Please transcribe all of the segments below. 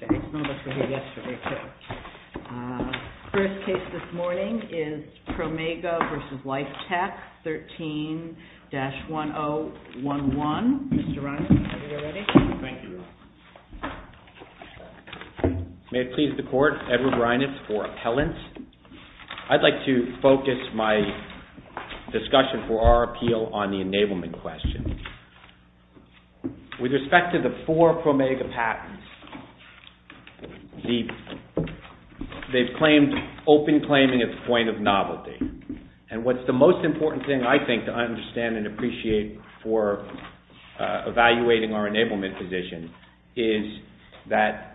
May it please the Court, Edward Reinitz for Appellant. I'd like to focus my discussion for our appeal on the enablement question. With respect to the four Promega patents, they've claimed open claiming at the point of novelty. And what's the most important thing I think to understand and appreciate for evaluating our enablement position is that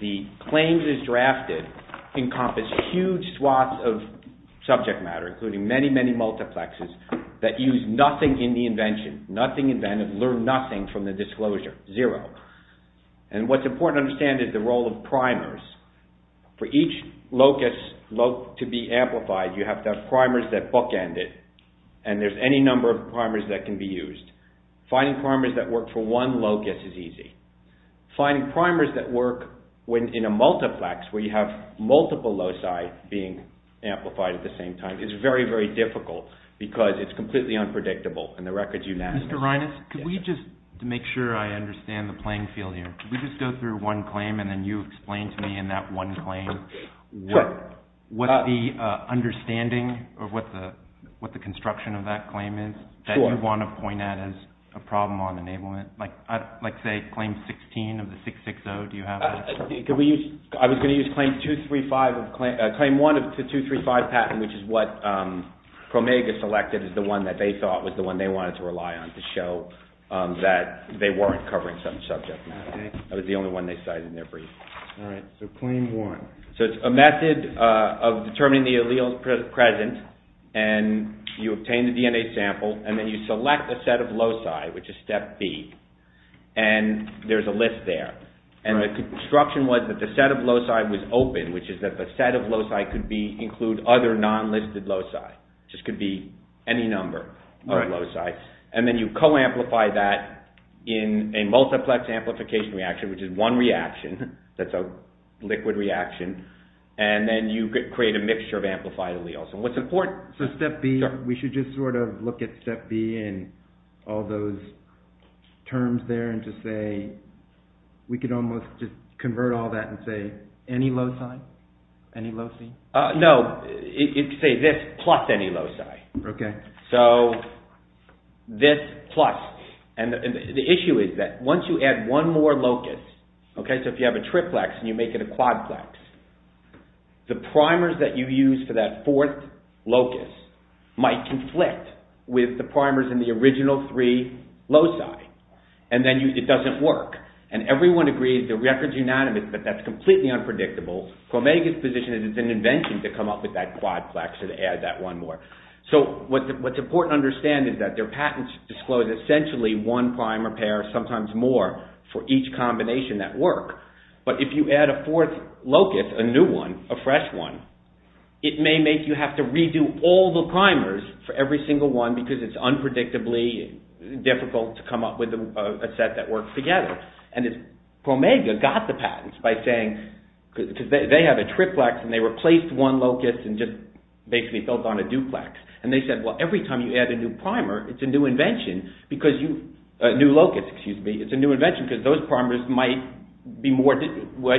the claims as drafted encompass huge swaths of subject matter including many, many multiplexes that use nothing in the invention, nothing invented, learn nothing from the disclosure, zero. And what's important to understand is the role of primers. For each locus to be amplified, you have to have primers that bookend it and there's any number of primers that can be used. Finding primers that work for one locus is easy. Finding primers that work in a multiplex where you have multiple loci being amplified at the same time is very, very difficult because it's completely unpredictable and the record's unanimous. Mr. Reinitz, could we just, to make sure I understand the playing field here, could we just go through one claim and then you explain to me in that one claim what the understanding or what the construction of that claim is that you want to point at as a problem on enablement? Like say claim 16 of the 660, do you have that? I was going to use claim 1 of the 235 patent which is what Promega selected as the one that they thought was the one they wanted to rely on to show that they weren't covering some subject matter. That was the only one they cited in their brief. All right, so claim 1. So it's a method of determining the alleles present and you obtain the DNA sample and then you select a set of loci which is step B and there's a list there. And the construction was that the set of loci was open which is that the set of loci could include other non-listed loci. It just could be any number of loci. And then you co-amplify that in a multiplex amplification reaction which is one reaction that's a liquid reaction and then you create a mixture of amplified alleles. So step B, we should just sort of look at step B and all those terms there and just say, we could almost just convert all that and say any loci, any loci? No, say this plus any loci. So this plus. And the issue is that once you add one more locus, okay, so if you have a triplex and you make it a quadplex, the primers that you use for that fourth locus might conflict with the primers in the original three loci and then it doesn't work. And everyone agrees the record's unanimous but that's completely unpredictable. Promega's position is it's an invention to come up with that quadplex and add that one more. So what's important to understand is that their patents disclose essentially one primer pair, sometimes more, for each combination that work. But if you add a fourth locus, a new one, a fresh one, it may make you have to redo all the primers for every single one because it's unpredictably difficult to come up with a set that works together. And if Promega got the patents by saying, because they have a triplex and they replaced one locus and just basically built on a duplex, and they said, well, every time you add a new primer, it's a new invention because you, a new locus, excuse me, it's a new invention because those primers might be more,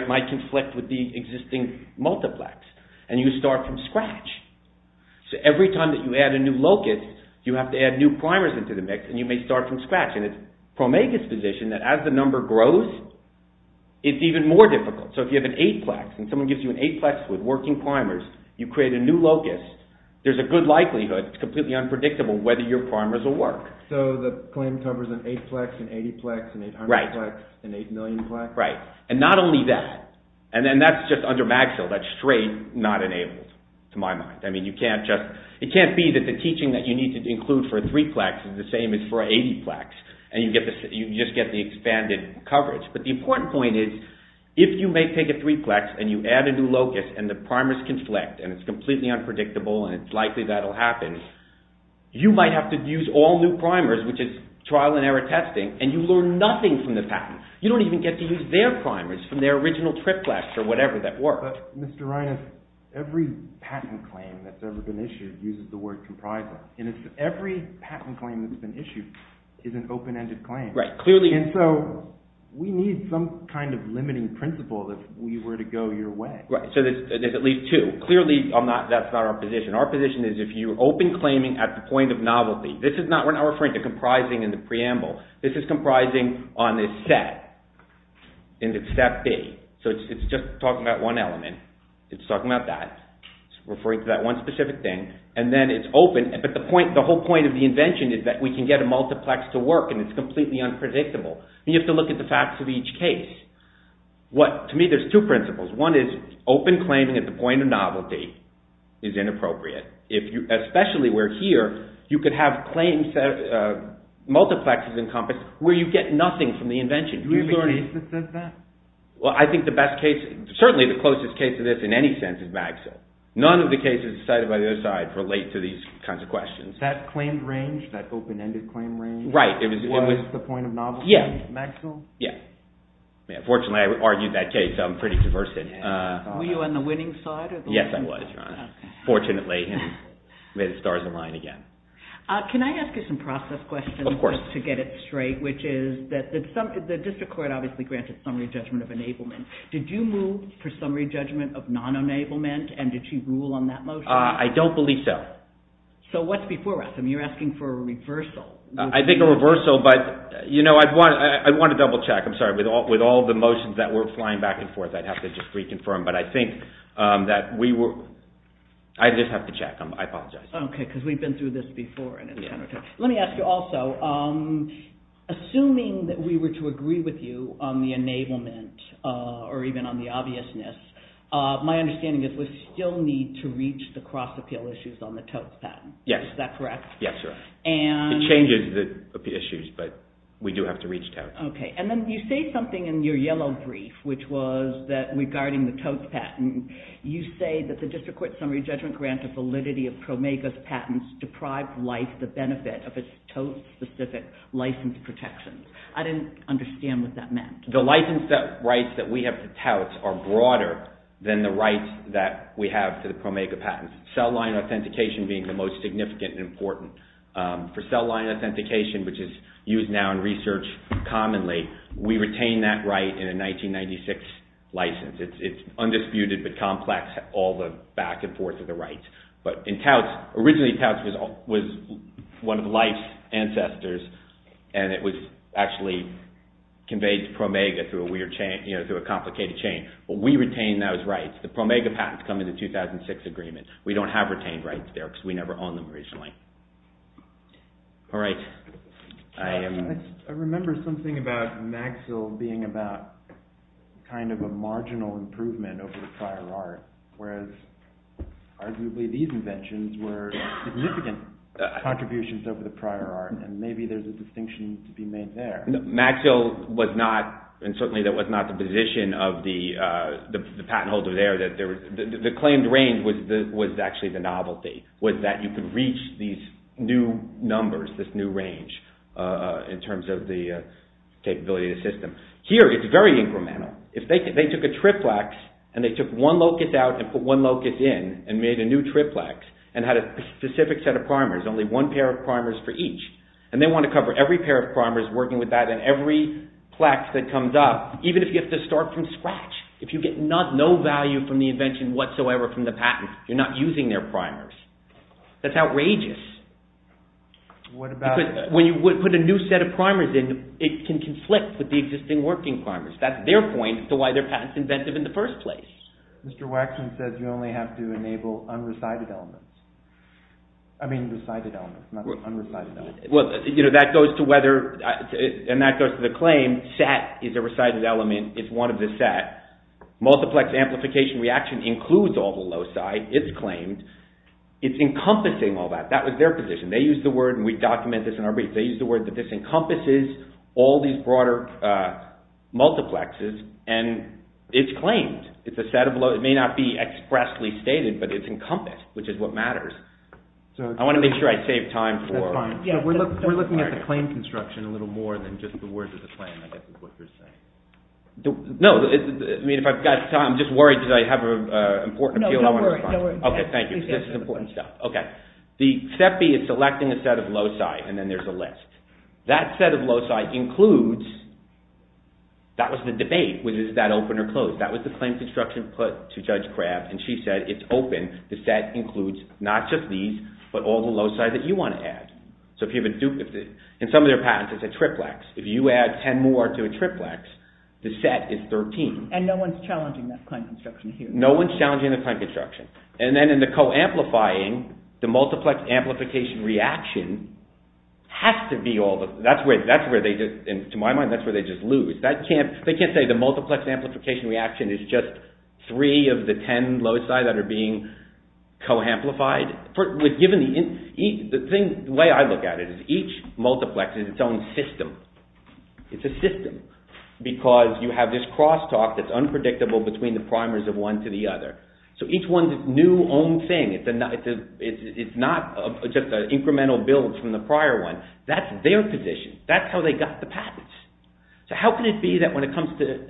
might conflict with the existing multiplex. And you start from scratch. So every time that you add a new locus, you have to add new primers into the mix and you may start from scratch. And it's Promega's position that as the number grows, it's even more difficult. So if you have an eightplex and someone gives you an eightplex with working primers, you create a new locus, there's a good likelihood, it's completely unpredictable, whether your primers will work. So the claim covers an eightplex, an 80plex, an 800plex, an 8 millionplex? Right. And not only that, and then that's just under MagSale, that's straight not enabled to my mind. I mean, you can't just, it can't be that the teaching that you need to include for a threeplex is the same as for an 80plex. And you get the, you just get the expanded coverage. But the important point is, if you may take a threeplex and you add a new locus and the primers conflict, and it's completely unpredictable, and it's likely that'll happen, you might have to use all new primers, which is trial and error testing, and you learn nothing from the patent. You don't even get to use their primers from their original triplex or whatever that worked. But Mr. Reines, every patent claim that's ever been issued uses the word comprising. And it's every patent claim that's been issued is an open-ended claim. Right, clearly. And so we need some kind of limiting principle if we were to go your way. Right. So there's at least two. Clearly, I'm not, that's not our position. Our position is if you open claiming at the point of novelty, this is not, we're not referring to comprising in the preamble. This is comprising on this set, and it's step B. So it's just talking about one element. It's talking about that. It's referring to that one specific thing. And then it's open, but the point, the whole point of the invention is that we can get a multiplex to work, and it's completely unpredictable. You have to look at the facts of each case. What to me, there's two principles. One is open claiming at the point of novelty is inappropriate. If you, especially where here, you could have claims, multiplexes encompassed, where you get nothing from the invention. Do we have a case that says that? Well, I think the best case, certainly the closest case to this in any sense is Magsill. None of the cases cited by the other side relate to these kinds of questions. That claimed range, that open-ended claim range, was the point of novelty, Magsill? Yeah. Yeah. Fortunately, I argued that case. I'm pretty conversant. Were you on the winning side? Yes, I was, Your Honor. Fortunately, made the stars align again. Can I ask you some process questions? Of course. To get it straight, which is that the district court obviously granted summary judgment of enablement. Did you move for summary judgment of non-enablement, and did you rule on that motion? I don't believe so. So, what's before us? I mean, you're asking for a reversal. I think a reversal, but, you know, I want to double-check. I'm sorry. With all the motions that were flying back and forth, I'd have to just reconfirm, but I think that we were... I just have to check. I apologize. Okay, because we've been through this before. Let me ask you also, assuming that we were to agree with you on the enablement, or even on the obviousness, my understanding is we still need to reach the cross-appeal issues on the totes patent. Yes. Is that correct? Yes, Your Honor. It changes the issues, but we do have to reach that. Okay. And then you say something in your yellow brief, which was that regarding the totes patent, you say that the district court summary judgment grant of validity of PROMEGA's patents deprived life the benefit of its totes-specific license protections. I didn't understand what that meant. The license rights that we have to tout are broader than the rights that we have to the PROMEGA patents, cell line authentication being the most significant and important. For cell line authentication, which is used now in research commonly, we retain that right in a 1996 license. It's undisputed, but complex, all the back and forth of the rights. But in touts, originally touts was one of life's ancestors, and it was actually conveyed to PROMEGA through a complicated chain. But we retain those rights. The PROMEGA patents come in the 2006 agreement. We don't have retained rights there because we never owned them originally. All right. I remember something about Maxill being about kind of a marginal improvement over the prior art, whereas arguably these inventions were significant contributions over the prior art, and maybe there's a distinction to be made there. Maxill was not, and certainly that was not the position of the patent holder there. The claimed range was actually the novelty, was that you could reach these new numbers, this new range in terms of the capability of the system. Here it's very incremental. If they took a triplex and they took one locus out and put one locus in and made a new triplex and had a specific set of primers, only one pair of primers for each, and they want to cover every pair of primers working with that and every plex that comes up, even if you have to start from scratch. If you get no value from the invention whatsoever from the patent, you're not using their primers. That's outrageous. When you put a new set of primers in, it can conflict with the existing working primers. That's their point as to why their patent's inventive in the first place. Mr. Waxman says you only have to enable unrecited elements. I mean recited elements, not unrecited elements. That goes to the claim, set is a recited element, it's one of the set. Multiplex amplification reaction includes all the loci, it's claimed. It's encompassing all that. That was their position. They used the word, and we document this in our brief, they used the word that this encompasses all these broader multiplexes, and it's claimed. It's a set of loci. It may not be expressly stated, but it's encompassed, which is what matters. I want to make sure I save time. We're looking at the claim construction a little more than just the words of the claim, I guess is what you're saying. No, I mean if I've got time, I'm just worried because I have an important appeal. No worries. Okay, thank you. This is important stuff. Okay. The SEPI is selecting a set of loci, and then there's a list. That set of loci includes, that was the debate, was that open or closed? That was the claim construction put to Judge Crabb, and she said it's open. The set includes not just these, but all the loci that you want to add. In some of their patents, it's a triplex. If you add 10 more to a triplex, the set is 13. And no one's challenging that claim construction here. No one's challenging the claim construction. And then in the co-amplifying, the multiplex amplification reaction has to be all the, that's where they just, to my mind, that's where they just lose. They can't say the multiplex amplification reaction is just three of the 10 loci that are being co-amplified. The way I look at it is each multiplex is its own system. It's a system because you have this crosstalk that's unpredictable between the primers of one to the other. So each one's its new own thing. It's not just an incremental build from the prior one. That's their position. That's how they got the patents. So how can it be that when it comes to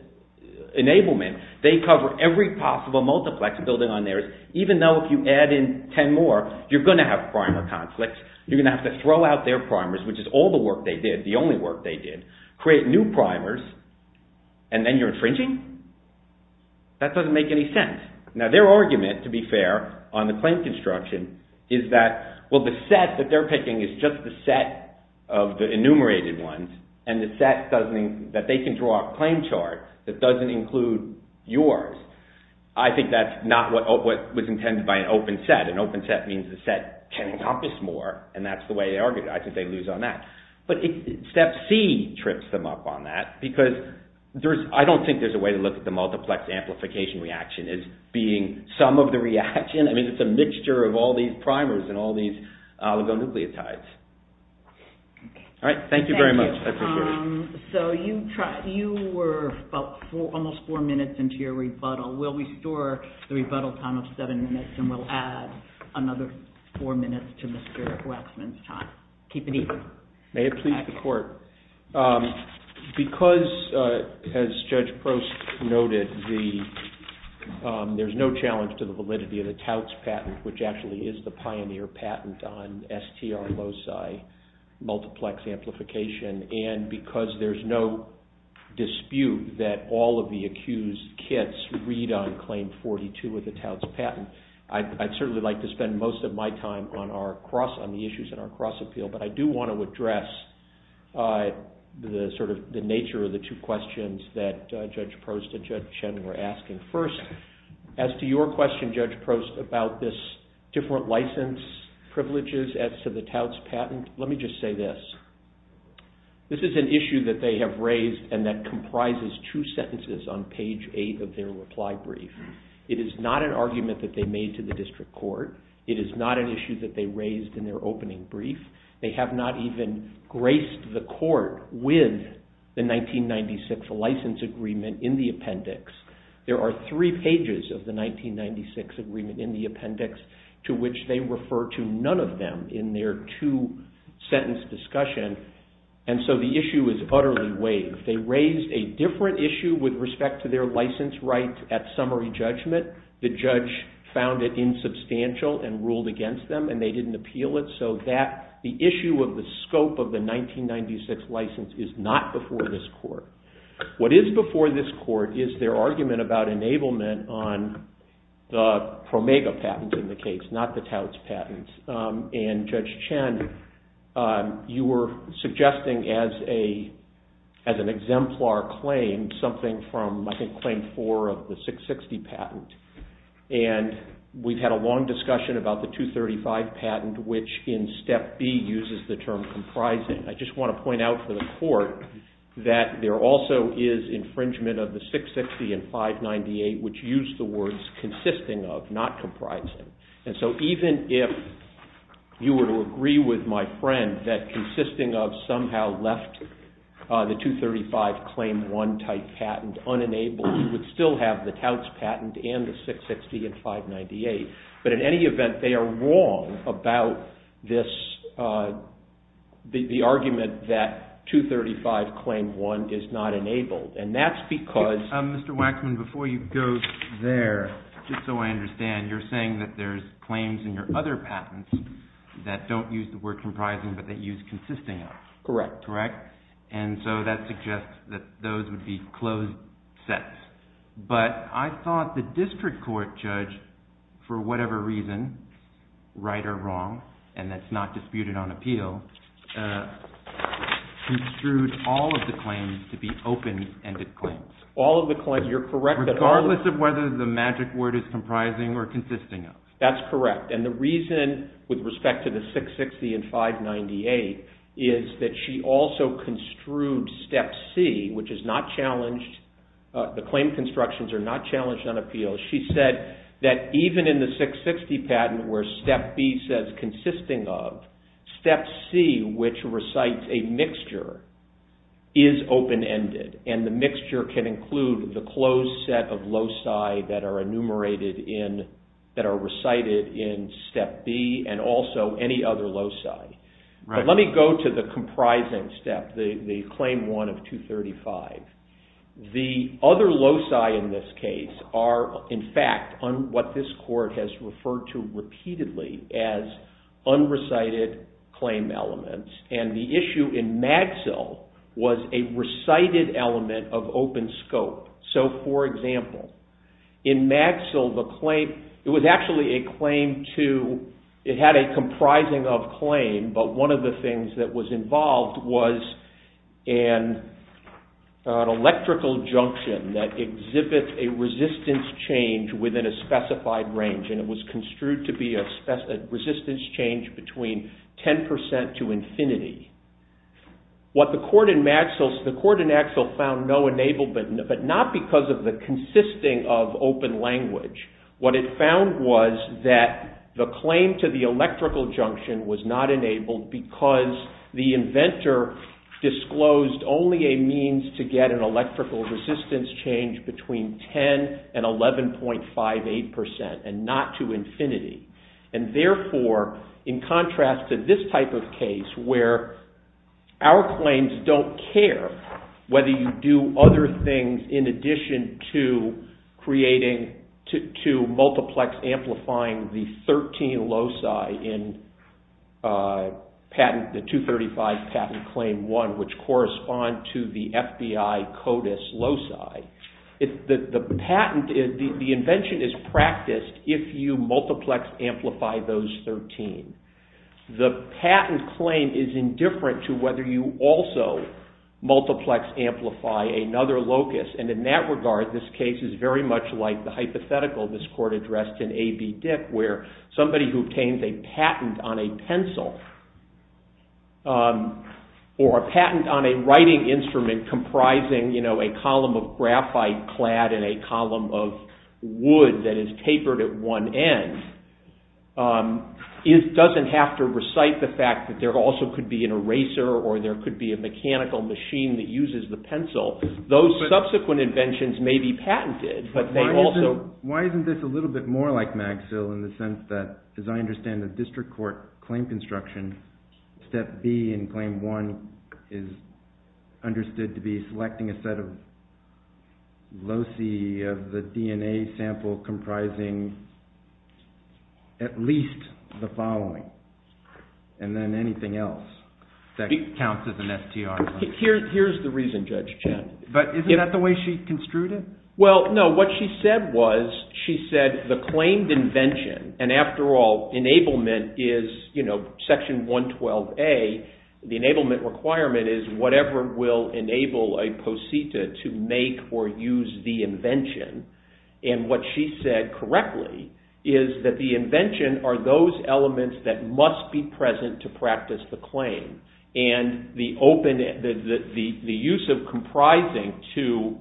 enablement, they cover every possible multiplex building on theirs, even though if you add in 10 more, you're going to have primer conflicts. You're going to have to throw out their primers, which is all the work they did, the only work they did, create new primers, and then you're infringing? That doesn't make any sense. Now, their argument, to be fair, on the claim construction is that, well, the set that they're picking is just the set of the enumerated ones, and the set that they can draw a claim chart that doesn't include yours. I think that's not what was intended by an open set. An open set means the set can encompass more, and that's the way they argued it. I think they lose on that. But step C trips them up on that because I don't think there's a way to look at the multiplex amplification reaction as being some of the reaction. I mean, it's a mixture of all these primers and all these oligonucleotides. All right. Thank you very much. I appreciate it. So you were almost four minutes into your rebuttal. We'll restore the rebuttal time of seven minutes, and we'll add another four minutes to Mr. Waxman's time. Keep it even. May it please the court. Because, as Judge Prost noted, there's no challenge to the validity of the Tout's patent, which actually is the pioneer patent on STR loci, multiplex amplification, and because there's no dispute that all of the accused kits read on Claim 42 of the Tout's patent, I'd certainly like to spend most of my time on the issues in our cross-appeal, but I do want to address the nature of the two questions that Judge Prost and Judge Chen were asking. First, as to your question, Judge Prost, about this different license privileges as to the Tout's patent, let me just say this. This is an issue that they have raised and that comprises two sentences on page eight of their reply brief. It is not an argument that they made to the district court. It is not an issue that they raised in their opening brief. They have not even graced the court with the 1996 license agreement in the appendix. There are three pages of the 1996 agreement in the appendix to which they refer to none of them in their two-sentence discussion, and so the issue is utterly waived. They raised a different issue with respect to their license right at summary judgment. The judge found it insubstantial and ruled against them, and they didn't appeal it, so that the issue of the scope of the 1996 license is not before this court. What is before this court is their argument about enablement on the Promega patent in the case, not the Tout's patent. And, Judge Chen, you were suggesting as an exemplar claim something from, I think, Claim 4 of the 660 patent, and we've had a long discussion about the 235 patent, which in Step B uses the term comprising. I just want to point out for the court that there also is infringement of the 660 and 598, which use the words consisting of, not comprising. And so even if you were to agree with my friend that consisting of somehow left the 235 Claim 1 type patent unenabled, you would still have the Tout's patent and the 660 and 598. But in any event, they are wrong about this, the argument that 235 Claim 1 is not enabled, and that's because… Mr. Waxman, before you go there, just so I understand, you're saying that there's claims in your other patents that don't use the word comprising, but that use consisting of. Correct. And so that suggests that those would be closed sets. But I thought the district court judge, for whatever reason, right or wrong, and that's not disputed on appeal, construed all of the claims to be open-ended claims. All of the claims, you're correct. Regardless of whether the magic word is comprising or consisting of. That's correct. And the reason with respect to the 660 and 598 is that she also construed Step C, which is not challenged, the claim constructions are not challenged on appeal. She said that even in the 660 patent where Step B says consisting of, Step C, which recites a mixture, is open-ended. And the mixture can include the closed set of loci that are enumerated in, that are recited in Step B and also any other loci. But let me go to the comprising step, the Claim 1 of 235. The other loci in this case are, in fact, what this court has referred to repeatedly as unrecited claim elements. And the issue in Magsil was a recited element of open scope. So, for example, in Magsil the claim, it was actually a claim to, it had a comprising of claim, but one of the things that was involved was an electrical junction that exhibits a resistance change within a specified range. And it was construed to be a resistance change between 10 percent to infinity. What the court in Magsil, the court in Magsil found no enablement, but not because of the consisting of open language. What it found was that the claim to the electrical junction was not enabled because the inventor disclosed only a means to get an electrical resistance change between 10 and 11.58 percent and not to infinity. And therefore, in contrast to this type of case where our claims don't care whether you do other things in addition to creating, to multiplex amplifying the 13 loci in patent, the 235 patent Claim 1, which correspond to the FBI CODIS loci, the patent, the invention is practiced if you multiplex amplify those 13. The patent claim is indifferent to whether you also multiplex amplify another locus. And in that regard, this case is very much like the hypothetical this court addressed in A.B. Dick where somebody who obtained a patent on a pencil or a patent on a writing instrument comprising, you know, a column of graphite clad in a column of wood that is tapered at one end doesn't have to recite the fact that there also could be an eraser or there could be a mechanical machine that uses the pencil. Those subsequent inventions may be patented, but they also… Why isn't this a little bit more like Magsil in the sense that, as I understand it, the understood to be selecting a set of loci of the DNA sample comprising at least the following and then anything else that counts as an STR? Here's the reason, Judge Chen. But isn't that the way she construed it? Well, no. What she said was, she said the claimed invention, and after all, enablement is, you know, Section 112A, the enablement requirement is whatever will enable a posita to make or use the invention. And what she said correctly is that the invention are those elements that must be present to practice the claim. And the use of comprising to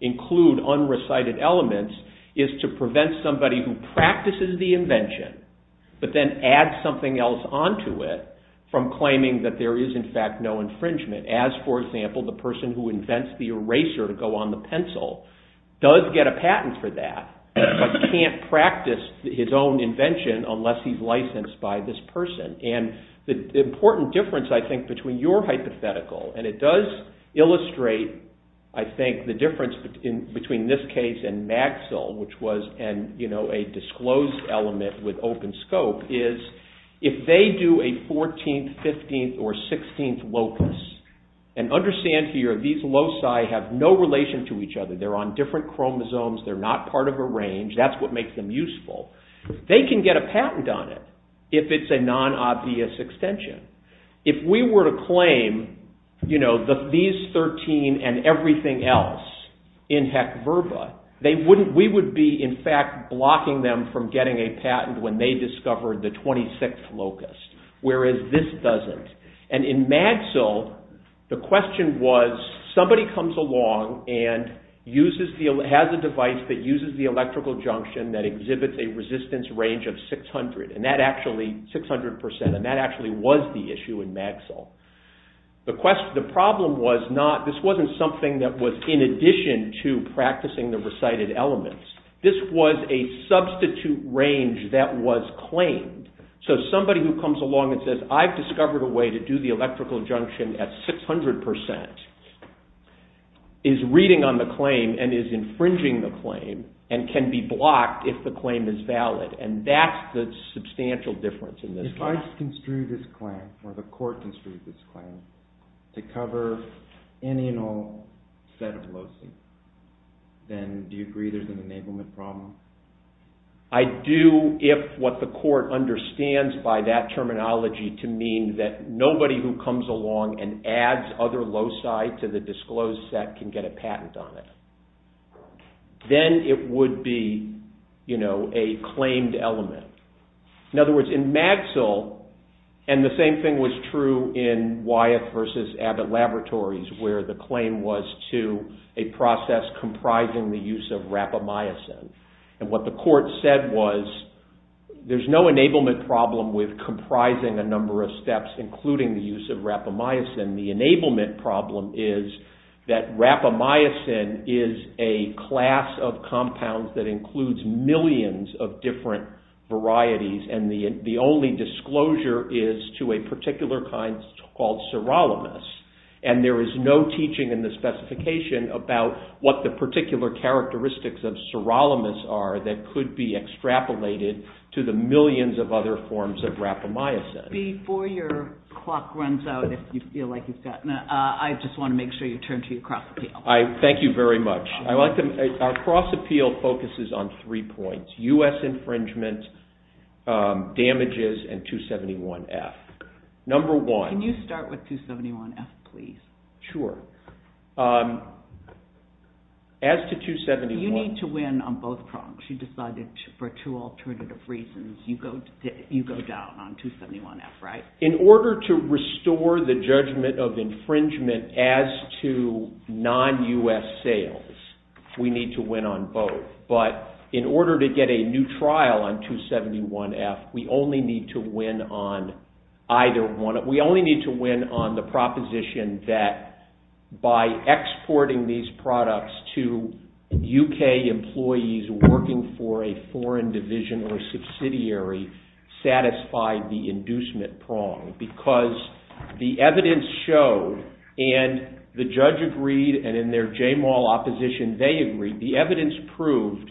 include unrecited elements is to prevent somebody who practices the invention but then adds something else onto it from claiming that there is, in fact, no infringement. As, for example, the person who invents the eraser to go on the pencil does get a patent for that but can't practice his own invention unless he's licensed by this person. And the important difference, I think, between your hypothetical, and it does illustrate, I think, the difference between this case and Maxill, which was a disclosed element with open scope, is if they do a 14th, 15th, or 16th locus, and understand here these loci have no relation to each other. They're on different chromosomes. They're not part of a range. That's what makes them useful. They can get a patent on it if it's a non-obvious extension. If we were to claim these 13 and everything else in HEC-VRBA, we would be, in fact, blocking them from getting a patent when they discovered the 26th locus, whereas this doesn't. And in Maxill, the question was, somebody comes along and has a device that uses the electrical junction that exhibits a resistance range of 600 percent, and that actually was the issue in Maxill. The problem was not, this wasn't something that was in addition to practicing the recited elements. This was a substitute range that was claimed. So somebody who comes along and says, I've discovered a way to do the electrical junction at 600 percent, is reading on the claim and is infringing the claim, and can be blocked if the claim is valid. And that's the substantial difference in this case. If the judge construed this claim, or the court construed this claim, to cover any and all set of loci, then do you agree there's an enablement problem? I do if what the court understands by that terminology to mean that nobody who comes along and adds other loci to the disclosed set can get a patent on it. Then it would be a claimed element. In other words, in Maxill, and the same thing was true in Wyeth versus Abbott Laboratories, where the claim was to a process comprising the use of rapamycin. And what the court said was, there's no enablement problem with comprising a number of steps, including the use of rapamycin. The enablement problem is that rapamycin is a class of compounds that includes millions of different varieties, and the only disclosure is to a particular kind called sirolimus. And there is no teaching in the specification about what the particular characteristics of sirolimus are that could be extrapolated to the millions of other forms of rapamycin. Before your clock runs out, if you feel like you've gotten it, I just want to make sure you turn to your cross appeal. Thank you very much. Our cross appeal focuses on three points. U.S. infringement, damages, and 271F. Number one- Can you start with 271F, please? Sure. As to 271- You need to win on both prongs. You decided for two alternative reasons, you go down on 271F, right? In order to restore the judgment of infringement as to non-U.S. sales, we need to win on both. But in order to get a new trial on 271F, we only need to win on either one. We only need to win on the proposition that by exporting these products to U.K. employees working for a foreign division or subsidiary satisfied the inducement prong. Because the evidence showed, and the judge agreed, and in their J-Mall opposition, they agreed, the evidence proved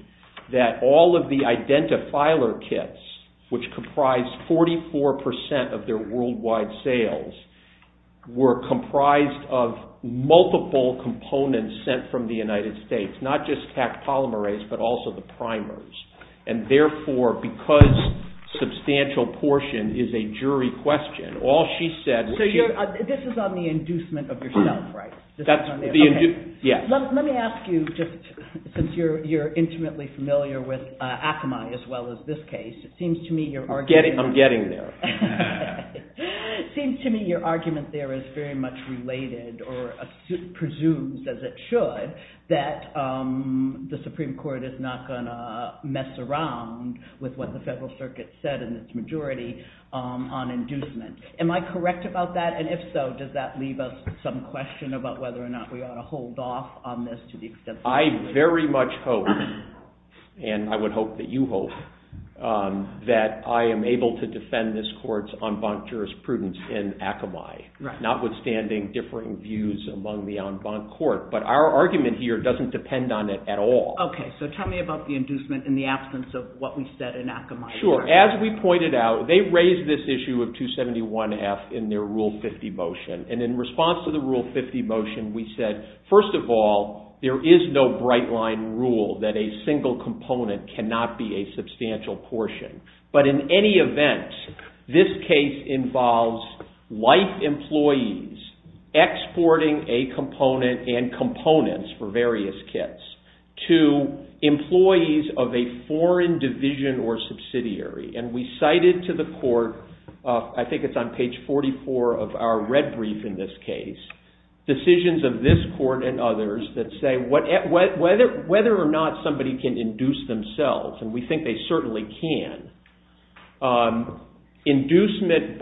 that all of the identifiler kits, which comprised 44% of their worldwide sales, were comprised of multiple components sent from the United States. Not just Taq polymerase, but also the primers. And therefore, because substantial portion is a jury question, all she said- So this is on the inducement of yourself, right? That's the- Okay. Yes. Let me ask you, since you're intimately familiar with Akamai as well as this case, it seems to me your argument- I'm getting there. It seems to me your argument there is very much related or presumes, as it should, that the Supreme Court is not going to mess around with what the Federal Circuit said in its majority on inducement. Am I correct about that? And if so, does that leave us some question about whether or not we ought to hold off on this to the extent- I very much hope, and I would hope that you hope, that I am able to defend this court's en banc jurisprudence in Akamai, notwithstanding differing views among the en banc court. But our argument here doesn't depend on it at all. Okay. So tell me about the inducement in the absence of what we said in Akamai. Sure. As we pointed out, they raised this issue of 271F in their Rule 50 motion. And in response to the Rule 50 motion, we said, first of all, there is no bright-line rule that a single component cannot be a substantial portion. But in any event, this case involves life employees exporting a component and components for various kits to employees of a foreign division or subsidiary. And we cited to the court, I think it's on page 44 of our red brief in this case, decisions of this court and others that say whether or not somebody can induce themselves, and we think they certainly can, inducement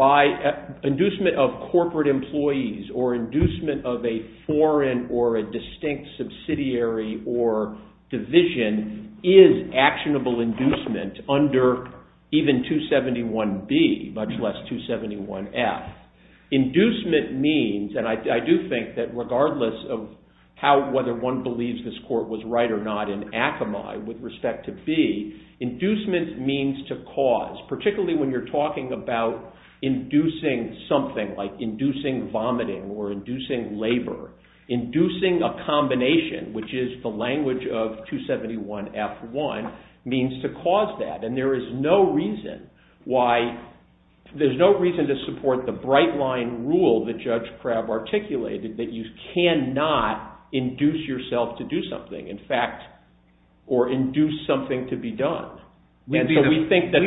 of corporate employees or inducement of a foreign or a distinct subsidiary or division is actionable inducement under even 271B, much less 271F. Inducement means, and I do think that regardless of whether one believes this court was right or not in Akamai with respect to B, inducement means to cause, particularly when you're talking about inducing something like inducing vomiting or inducing labor, inducing a combination, which is the language of 271F1, means to cause that. And there is no reason why, there's no reason to support the bright-line rule that Judge Crabb articulated that you cannot induce yourself to do something, in fact, or induce something to be done. We'd be the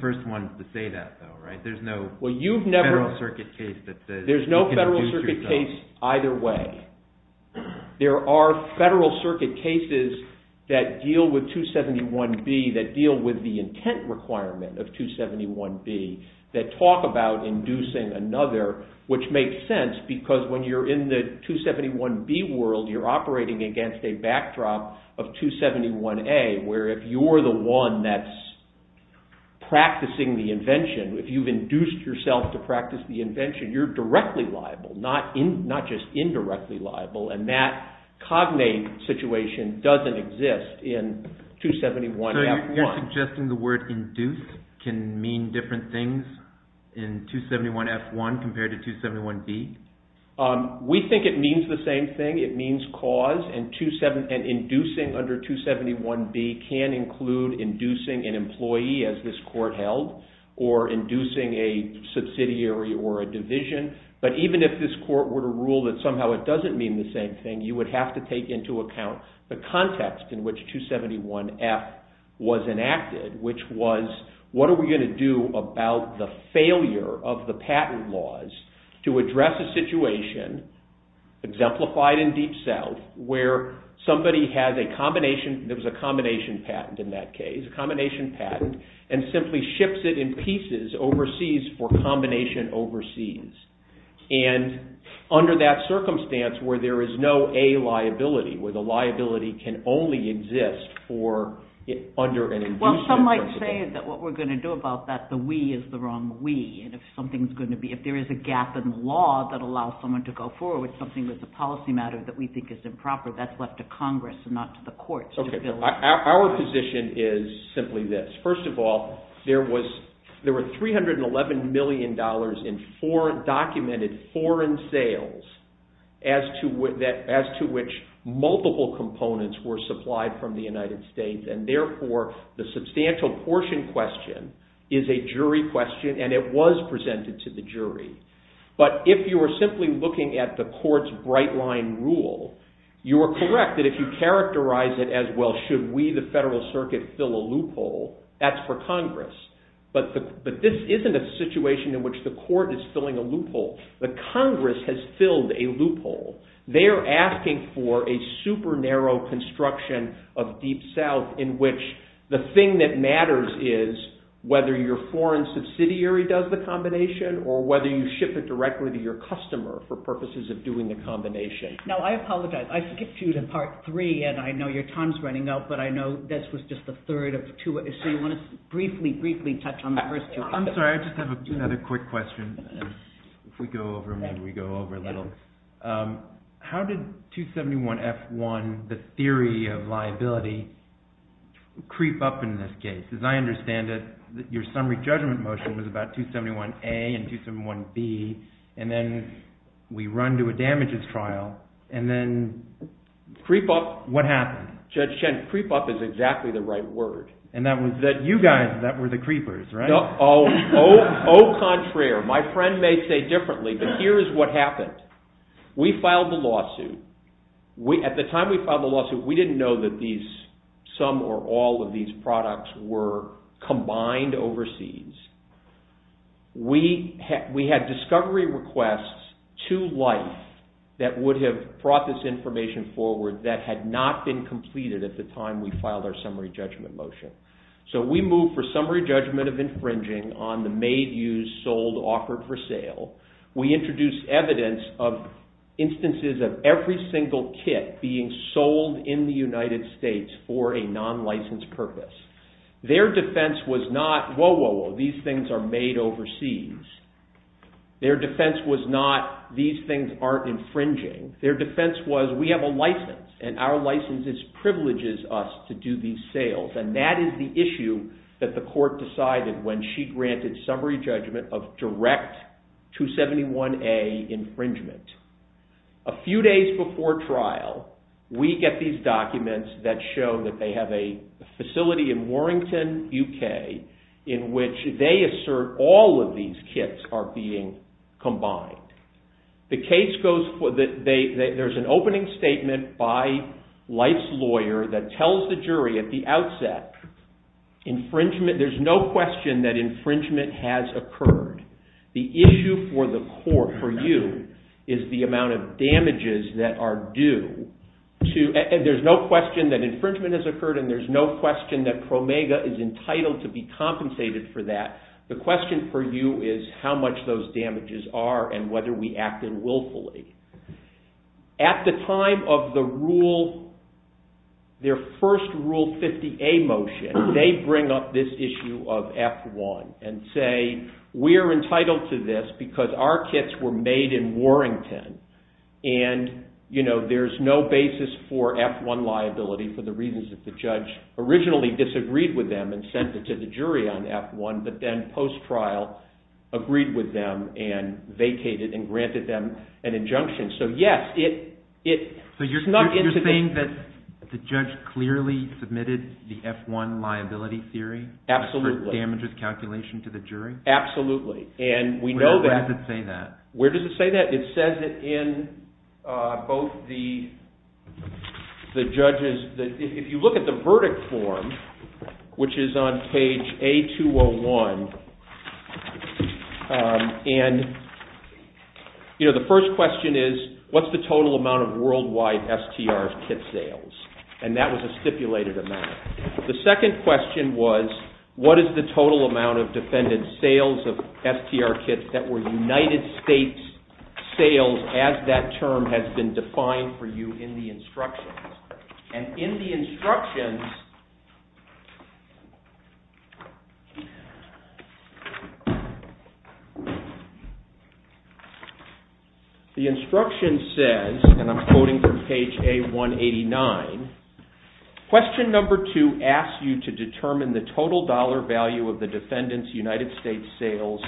first ones to say that though, right? There's no Federal Circuit case that says you can induce yourself. where if you're the one that's practicing the invention, if you've induced yourself to practice the invention, you're directly liable, not just indirectly liable, and that cognate situation doesn't exist in 271F1. So you're suggesting the word induce can mean different things in 271F1 compared to 271B? We think it means the same thing. It means cause, and inducing under 271B can include inducing an employee, as this court held, or inducing a subsidiary or a division. But even if this court were to rule that somehow it doesn't mean the same thing, you would have to take into account the context in which 271F was enacted, which was, what are we going to do about the failure of the patent laws to address a situation, exemplified in Deep South, where somebody has a combination, there was a combination patent in that case, a combination patent, and simply ships it in pieces overseas for combination overseas. And under that circumstance where there is no A liability, where the liability can only exist under an inducement. Some might say that what we're going to do about that, the we is the wrong we, and if something's going to be, if there is a gap in the law that allows someone to go forward with something that's a policy matter that we think is improper, that's left to Congress and not to the courts. Our position is simply this. First of all, there were $311 million in documented foreign sales as to which multiple components were supplied from the United States, and therefore the substantial portion question is a jury question, and it was presented to the jury. But if you are simply looking at the court's bright line rule, you are correct that if you characterize it as, well, should we, the federal circuit, fill a loophole, that's for Congress. But this isn't a situation in which the court is filling a loophole. The Congress has filled a loophole. They are asking for a super narrow construction of Deep South in which the thing that matters is whether your foreign subsidiary does the combination or whether you ship it directly to your customer for purposes of doing the combination. Now, I apologize. I skipped you to part three, and I know your time's running out, but I know this was just the third of two, so you want to briefly, briefly touch on the first two. If we go over, maybe we go over a little. How did 271F1, the theory of liability, creep up in this case? As I understand it, your summary judgment motion was about 271A and 271B, and then we run to a damages trial, and then what happened? Judge Chen, creep up is exactly the right word. And that was you guys that were the creepers, right? Au contraire. My friend may say differently, but here is what happened. We filed the lawsuit. At the time we filed the lawsuit, we didn't know that some or all of these products were combined overseas. We had discovery requests to life that would have brought this information forward that had not been completed at the time we filed our summary judgment motion. So we moved for summary judgment of infringing on the made, used, sold, offered for sale. We introduced evidence of instances of every single kit being sold in the United States for a non-licensed purpose. Their defense was not, whoa, whoa, whoa, these things are made overseas. Their defense was not, these things aren't infringing. Their defense was, we have a license, and our license privileges us to do these sales, and that is the issue that the court decided when she granted summary judgment of direct 271A infringement. A few days before trial, we get these documents that show that they have a facility in Warrington, UK, in which they assert all of these kits are being combined. The case goes, there's an opening statement by Light's lawyer that tells the jury at the outset, infringement, there's no question that infringement has occurred. The issue for the court, for you, is the amount of damages that are due. There's no question that infringement has occurred, and there's no question that Promega is entitled to be compensated for that. The question for you is how much those damages are and whether we act unwillfully. At the time of the rule, their first Rule 50A motion, they bring up this issue of F1 and say, we're entitled to this because our kits were made in Warrington, and there's no basis for F1 liability for the reasons that the judge originally disagreed with them and sent it to the jury on F1, but then post-trial, agreed with them and vacated and granted them an injunction. So, yes, it's not integral. So you're saying that the judge clearly submitted the F1 liability theory? Absolutely. For damages calculation to the jury? Absolutely. Where does it say that? Where does it say that? It says it in both the judges. If you look at the verdict form, which is on page A201, and the first question is, what's the total amount of worldwide STR kit sales? And that was a stipulated amount. The second question was, what is the total amount of defendant sales of STR kits that were United States sales as that term has been defined for you in the instructions? And page 22 asks you to determine the total dollar value of the defendant's United States sales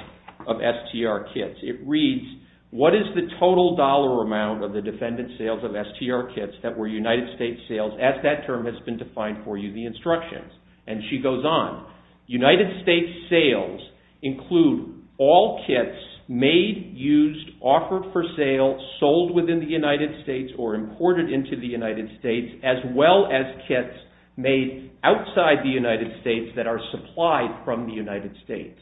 of STR kits. It reads, what is the total dollar amount of the defendant sales of STR kits that were United States sales as that term has been defined for you in the instructions? And she goes on. United States sales include all kits made, used, offered for sale, sold within the United States, or imported into the United States, as well as kits made outside the United States that are supplied from the United States.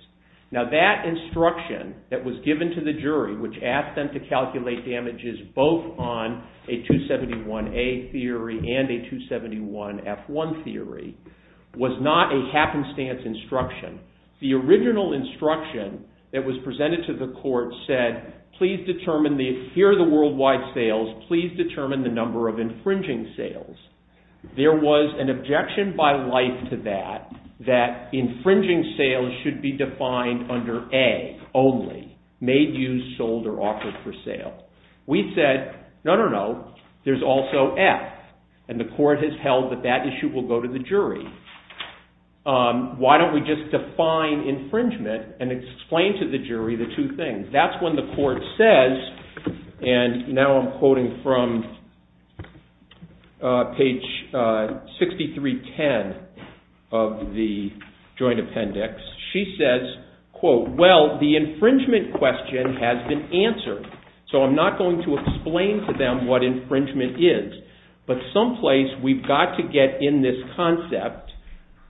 Now, that instruction that was given to the jury, which asked them to calculate damages both on a 271A theory and a 271F1 theory, was not a happenstance instruction. The original instruction that was presented to the court said, here are the worldwide sales. Please determine the number of infringing sales. There was an objection by life to that, that infringing sales should be defined under A only, made, used, sold, or offered for sale. We said, no, no, no. There's also F. And the court has held that that issue will go to the jury. Why don't we just define infringement and explain to the jury the two things? That's when the court says, and now I'm quoting from page 6310 of the joint appendix. She says, quote, well, the infringement question has been answered. So I'm not going to explain to them what infringement is. But someplace we've got to get in this concept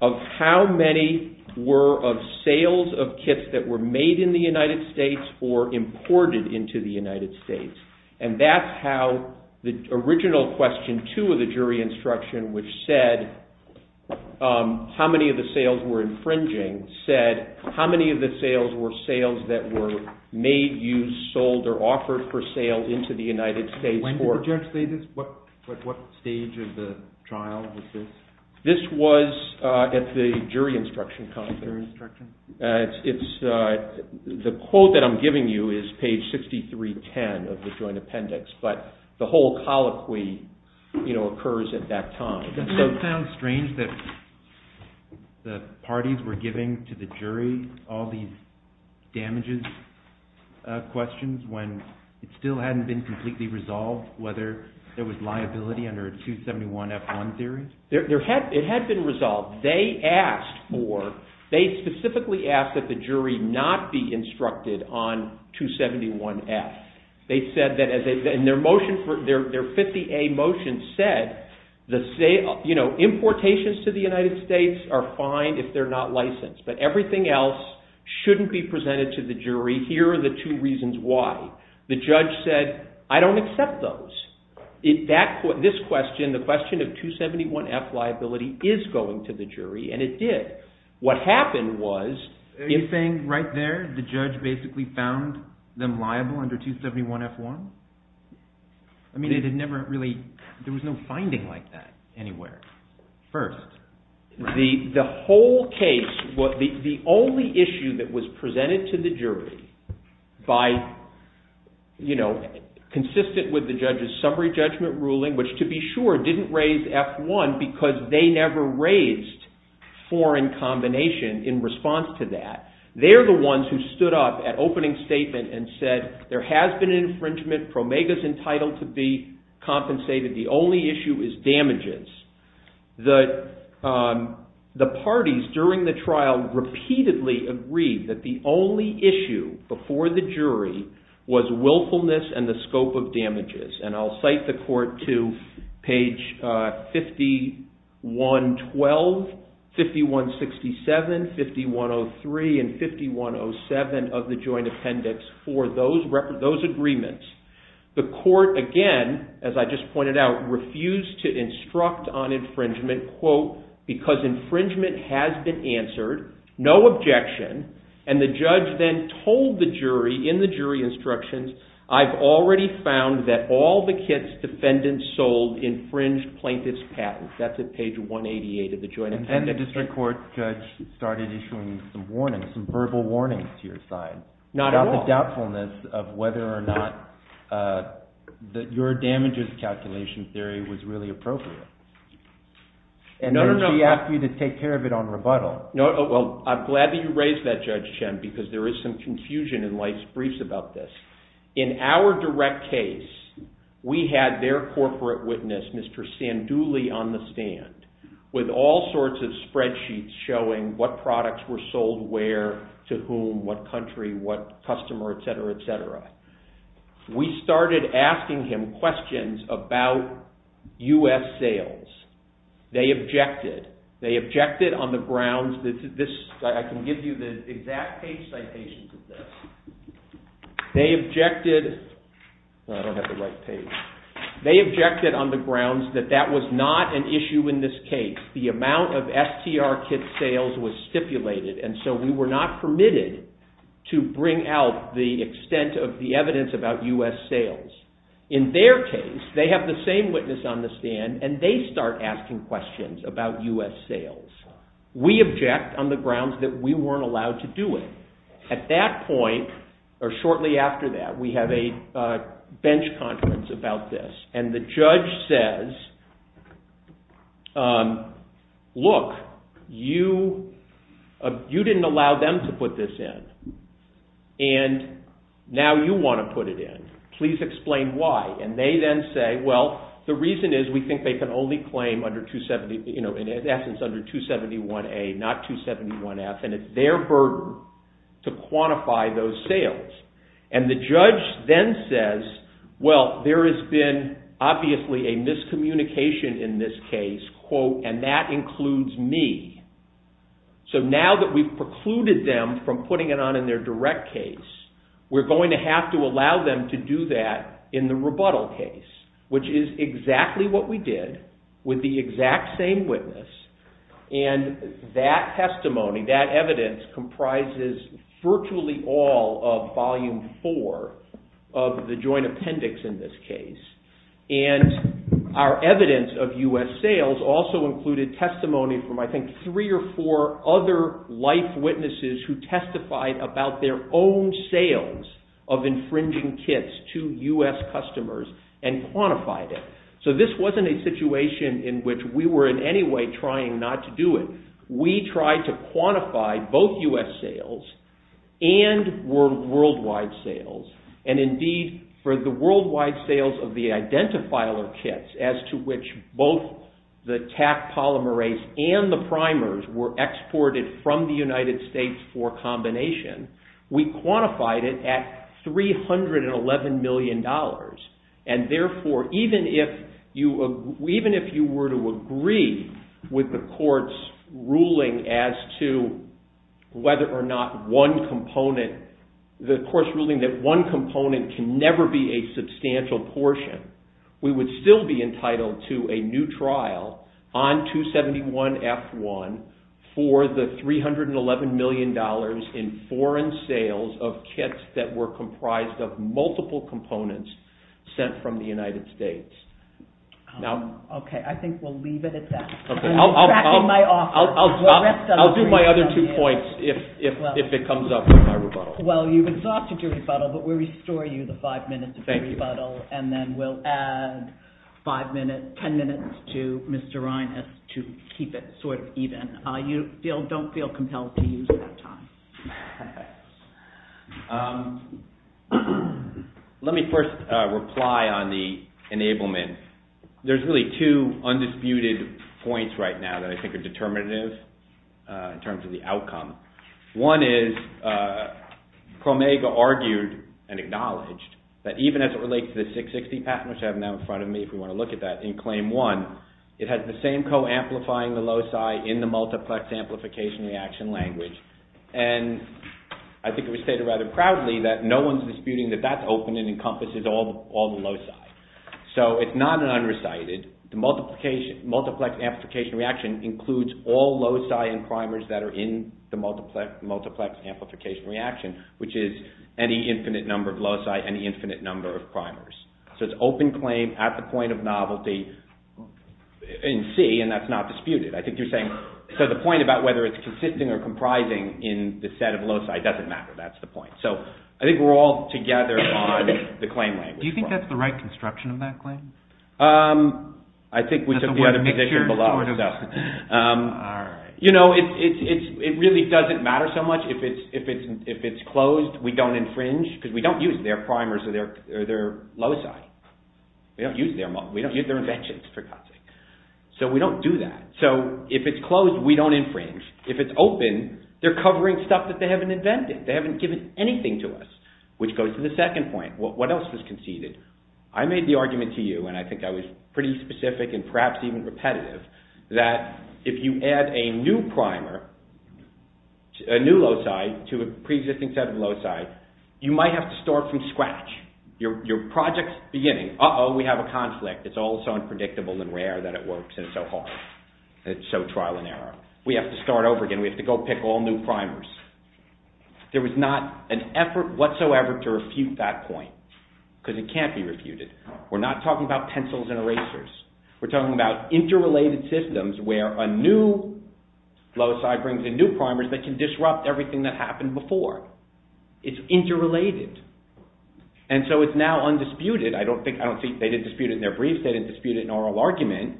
of how many were of sales of kits that were made in the United States or imported into the United States. And that's how the original question, two of the jury instruction, which said how many of the sales were infringing, said how many of the sales were sales that were made, used, sold, or offered for sale into the United States court. When did the judge say this? At what stage of the trial was this? This was at the jury instruction conference. The quote that I'm giving you is page 6310 of the joint appendix. But the whole colloquy occurs at that time. So it sounds strange that the parties were giving to the jury all these damages questions when it still hadn't been completely resolved whether there was liability under a 271F1 theory? It had been resolved. They specifically asked that the jury not be instructed on 271F. Their 50A motion said importations to the United States are fine if they're not licensed, but everything else shouldn't be presented to the jury. Here are the two reasons why. The judge said, I don't accept those. This question, the question of 271F liability, is going to the jury, and it did. Are you saying right there the judge basically found them liable under 271F1? I mean, there was no finding like that anywhere first, right? The only issue that was presented to the jury by, you know, consistent with the judge's summary judgment ruling, which to be sure didn't raise F1 because they never raised foreign combination in response to that. They're the ones who stood up at opening statement and said there has been infringement. Promega's entitled to be compensated. The only issue is damages. The parties during the trial repeatedly agreed that the only issue before the jury was willfulness and the scope of damages. And I'll cite the court to page 5112, 5167, 5103, and 5107 of the joint appendix for those agreements. The court, again, as I just pointed out, refused to instruct on infringement, quote, because infringement has been answered, no objection. And the judge then told the jury in the jury instructions, I've already found that all the kits defendants sold infringed plaintiff's patent. That's at page 188 of the joint appendix. And the district court judge started issuing some warnings, some verbal warnings to your side. Not at all. There was a lot of doubtfulness of whether or not your damages calculation theory was really appropriate. And then she asked you to take care of it on rebuttal. Well, I'm glad that you raised that, Judge Chen, because there is some confusion in life's briefs about this. In our direct case, we had their corporate witness, Mr. Sanduli, on the stand with all sorts of spreadsheets showing what products were sold where, to whom, what country, what customer, et cetera, et cetera. We started asking him questions about U.S. sales. They objected. They objected on the grounds that this – I can give you the exact page citations of this. They objected – I don't have the right page. They objected on the grounds that that was not an issue in this case. The amount of STR kit sales was stipulated, and so we were not permitted to bring out the extent of the evidence about U.S. sales. In their case, they have the same witness on the stand, and they start asking questions about U.S. sales. We object on the grounds that we weren't allowed to do it. At that point, or shortly after that, we have a bench conference about this, and the judge says, look, you didn't allow them to put this in, and now you want to put it in. Please explain why. They then say, well, the reason is we think they can only claim in essence under 271A, not 271F, and it's their burden to quantify those sales. The judge then says, well, there has been obviously a miscommunication in this case, and that includes me. So now that we've precluded them from putting it on in their direct case, we're going to have to allow them to do that in the rebuttal case, which is exactly what we did with the exact same witness, and that testimony, that evidence, comprises virtually all of volume four of the joint appendix in this case. And our evidence of U.S. sales also included testimony from I think three or four other life witnesses who testified about their own sales of infringing kits to U.S. customers and quantified it. So this wasn't a situation in which we were in any way trying not to do it. We tried to quantify both U.S. sales and worldwide sales, and indeed for the worldwide sales of the identifier kits as to which both the TAC polymerase and the primers were exported from the United States for combination, we quantified it at $311 million. And therefore, even if you were to agree with the court's ruling as to whether or not one component, the court's ruling that one component can never be a substantial portion, we would still be entitled to a new trial on 271F1 for the $311 million in foreign sales of kits that were comprised of multiple components sent from the United States. Okay, I think we'll leave it at that. I'll do my other two points if it comes up in my rebuttal. Well, you've exhausted your rebuttal, but we'll restore you the five minutes of your rebuttal, and then we'll add five minutes, ten minutes to Mr. Reines to keep it sort of even. You don't feel compelled to use that time. Let me first reply on the enablement. There's really two undisputed points right now that I think are determinative in terms of the outcome. One is Promega argued and acknowledged that even as it relates to the 660 patent, which I have now in front of me if you want to look at that, in claim one, it has the same co-amplifying the loci in the multiplex amplification reaction language. And I think it was stated rather proudly that no one's disputing that that's open and encompasses all the loci. So it's not an unrecited. The multiplex amplification reaction includes all loci and primers that are in the multiplex amplification reaction, which is any infinite number of loci, any infinite number of primers. So it's open claim at the point of novelty in C, and that's not disputed. I think you're saying – so the point about whether it's consisting or comprising in the set of loci doesn't matter. That's the point. So I think we're all together on the claim language. Do you think that's the right construction of that claim? I think we took the other position below. All right. It really doesn't matter so much. If it's closed, we don't infringe because we don't use their primers or their loci. We don't use their inventions, for God's sake. So we don't do that. So if it's closed, we don't infringe. If it's open, they're covering stuff that they haven't invented. They haven't given anything to us, which goes to the second point. What else was conceded? I made the argument to you, and I think I was pretty specific and perhaps even repetitive, that if you add a new primer, a new loci to a preexisting set of loci, you might have to start from scratch. Your project's beginning. Uh-oh, we have a conflict. It's all so unpredictable and rare that it works and so hard. It's so trial and error. We have to start over again. We have to go pick all new primers. There was not an effort whatsoever to refute that point because it can't be refuted. We're not talking about pencils and erasers. We're talking about interrelated systems where a new loci brings in new primers that can disrupt everything that happened before. It's interrelated, and so it's now undisputed. They didn't dispute it in their brief. They didn't dispute it in oral argument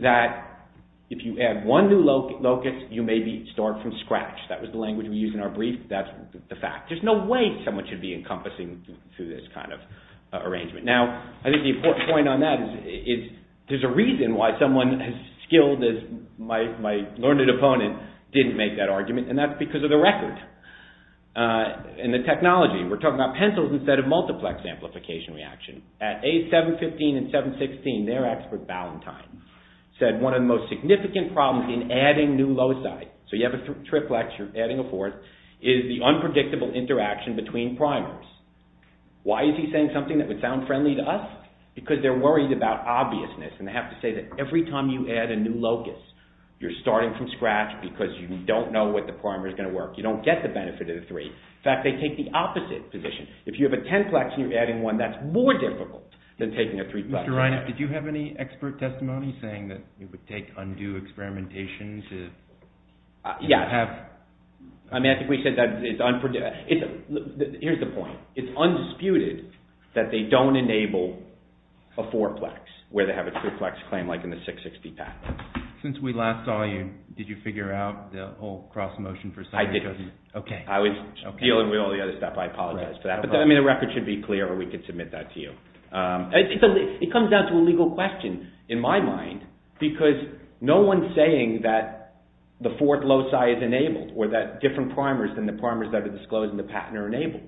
that if you add one new locus, you maybe start from scratch. That was the language we used in our brief. That's the fact. There's no way someone should be encompassing through this kind of arrangement. Now, I think the important point on that is there's a reason why someone as skilled as my learned opponent didn't make that argument, and that's because of the record and the technology. We're talking about pencils instead of multiplex amplification reaction. At age 715 and 716, their expert, Ballantyne, said one of the most significant problems in adding new loci, so you have a triplex, you're adding a fourth, is the unpredictable interaction between primers. Why is he saying something that would sound friendly to us? Because they're worried about obviousness, and they have to say that every time you add a new locus, you're starting from scratch because you don't know what the primer's going to work. You don't get the benefit of the three. In fact, they take the opposite position. If you have a tenplex and you're adding one, that's more difficult than taking a threeplex. Mr. Reineff, did you have any expert testimony saying that it would take undue experimentation to have— Yeah. I mean, I think we said that it's—here's the point. It's undisputed that they don't enable a fourplex where they have a triplex claim like in the 660 patent. Since we last saw you, did you figure out the whole cross motion for— I didn't. Okay. I was dealing with all the other stuff. I apologize for that. I mean, the record should be clear or we could submit that to you. It comes down to a legal question in my mind because no one's saying that the fourth loci is enabled or that different primers than the primers that are disclosed in the patent are enabled.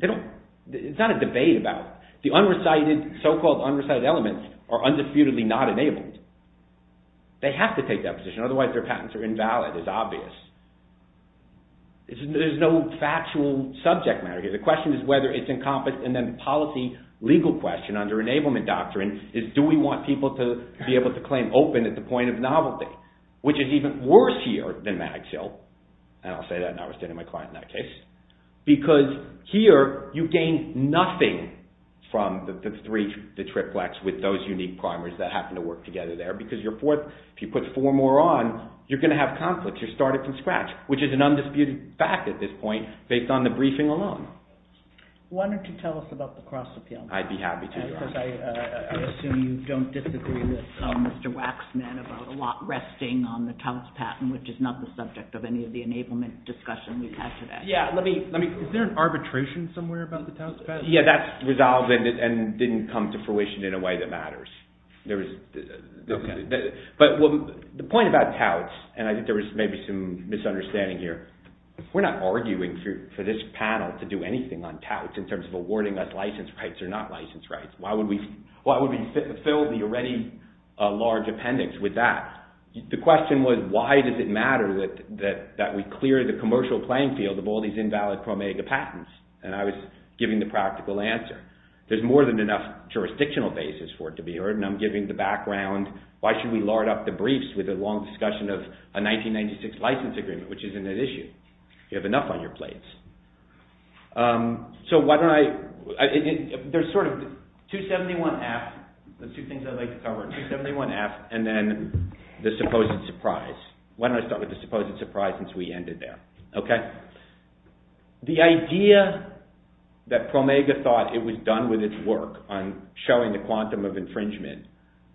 It's not a debate about—the unrecited, so-called unrecited elements are undisputedly not enabled. They have to take that position. Otherwise, their patents are invalid. It's obvious. There's no factual subject matter here. The question is whether it's encompassed. And then the policy legal question under enablement doctrine is, do we want people to be able to claim open at the point of novelty, which is even worse here than Magsill—and I'll say that and I'll stay to my client in that case— because here you gain nothing from the three—the triplex with those unique primers that happen to work together there because your fourth—if you put four more on, you're going to have conflicts. You're starting from scratch, which is an undisputed fact at this point based on the briefing alone. Why don't you tell us about the cross-appeal? I'd be happy to. Because I assume you don't disagree with Mr. Waxman about a lot resting on the Taos patent, which is not the subject of any of the enablement discussion we've had today. Yeah, let me— Is there an arbitration somewhere about the Taos patent? Yeah, that's resolved and didn't come to fruition in a way that matters. But the point about Taos—and I think there was maybe some misunderstanding here. We're not arguing for this panel to do anything on Taos in terms of awarding us license rights or not license rights. Why would we fill the already large appendix with that? The question was, why does it matter that we clear the commercial playing field of all these invalid Promega patents? And I was giving the practical answer. There's more than enough jurisdictional basis for it to be heard, and I'm giving the background. Why should we lard up the briefs with a long discussion of a 1996 license agreement, which isn't an issue? You have enough on your plates. So why don't I— There's sort of 271F, the two things I'd like to cover, 271F, and then the supposed surprise. Why don't I start with the supposed surprise since we ended there, okay? The idea that Promega thought it was done with its work on showing the quantum of infringement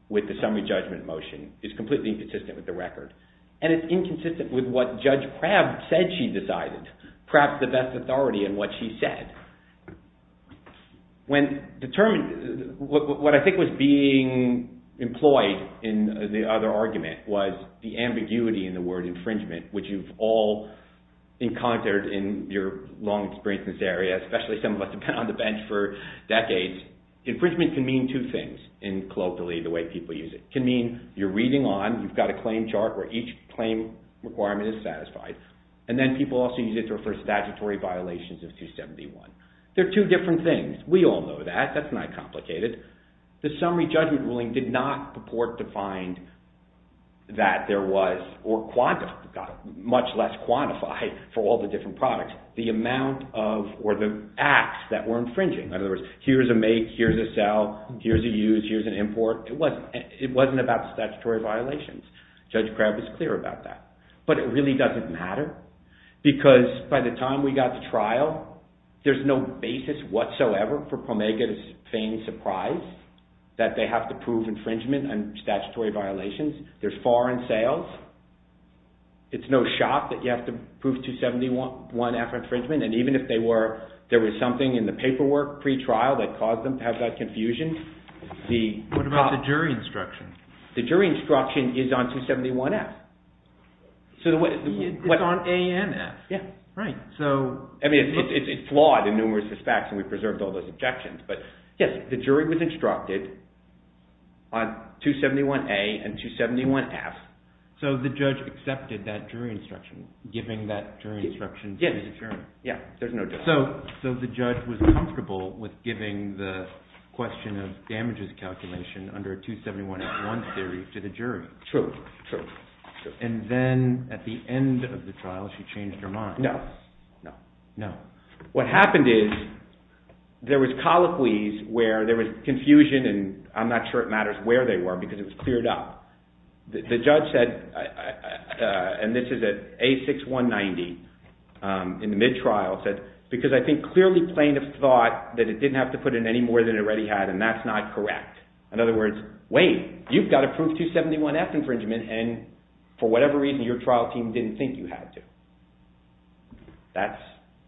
with the summary judgment motion is completely inconsistent with the record, and it's inconsistent with what Judge Crabb said she decided, perhaps the best authority in what she said. When determined—what I think was being employed in the other argument was the ambiguity in the word infringement, which you've all encountered in your long experience in this area, especially some of us have been on the bench for decades. Infringement can mean two things in colloquially the way people use it. It can mean you're reading on, you've got a claim chart where each claim requirement is satisfied, and then people also use it to refer to statutory violations of 271. They're two different things. We all know that. That's not complicated. The summary judgment ruling did not purport to find that there was— much less quantified for all the different products— the amount of or the acts that were infringing. In other words, here's a make, here's a sell, here's a use, here's an import. It wasn't about statutory violations. Judge Crabb was clear about that. But it really doesn't matter because by the time we got to trial, there's no basis whatsoever for Promega to feign surprise that they have to prove infringement and statutory violations. There's foreign sales. It's no shock that you have to prove 271F infringement. And even if there was something in the paperwork pre-trial that caused them to have that confusion, the— What about the jury instruction? The jury instruction is on 271F. It's on ANF. Yeah. Right. I mean, it's flawed in numerous respects, and we preserved all those objections. But yes, the jury was instructed on 271A and 271F. So the judge accepted that jury instruction, giving that jury instruction to the jury. Yes. Yeah, there's no doubt. So the judge was comfortable with giving the question of damages calculation under a 271F1 theory to the jury. True, true, true. And then at the end of the trial, she changed her mind. No, no. No. What happened is there was colloquies where there was confusion, and I'm not sure it matters where they were because it was cleared up. The judge said—and this is at A6190 in the mid-trial—said, because I think clearly plain of thought that it didn't have to put in any more than it already had, and that's not correct. In other words, wait, you've got to prove 271F infringement, and for whatever reason your trial team didn't think you had to. That's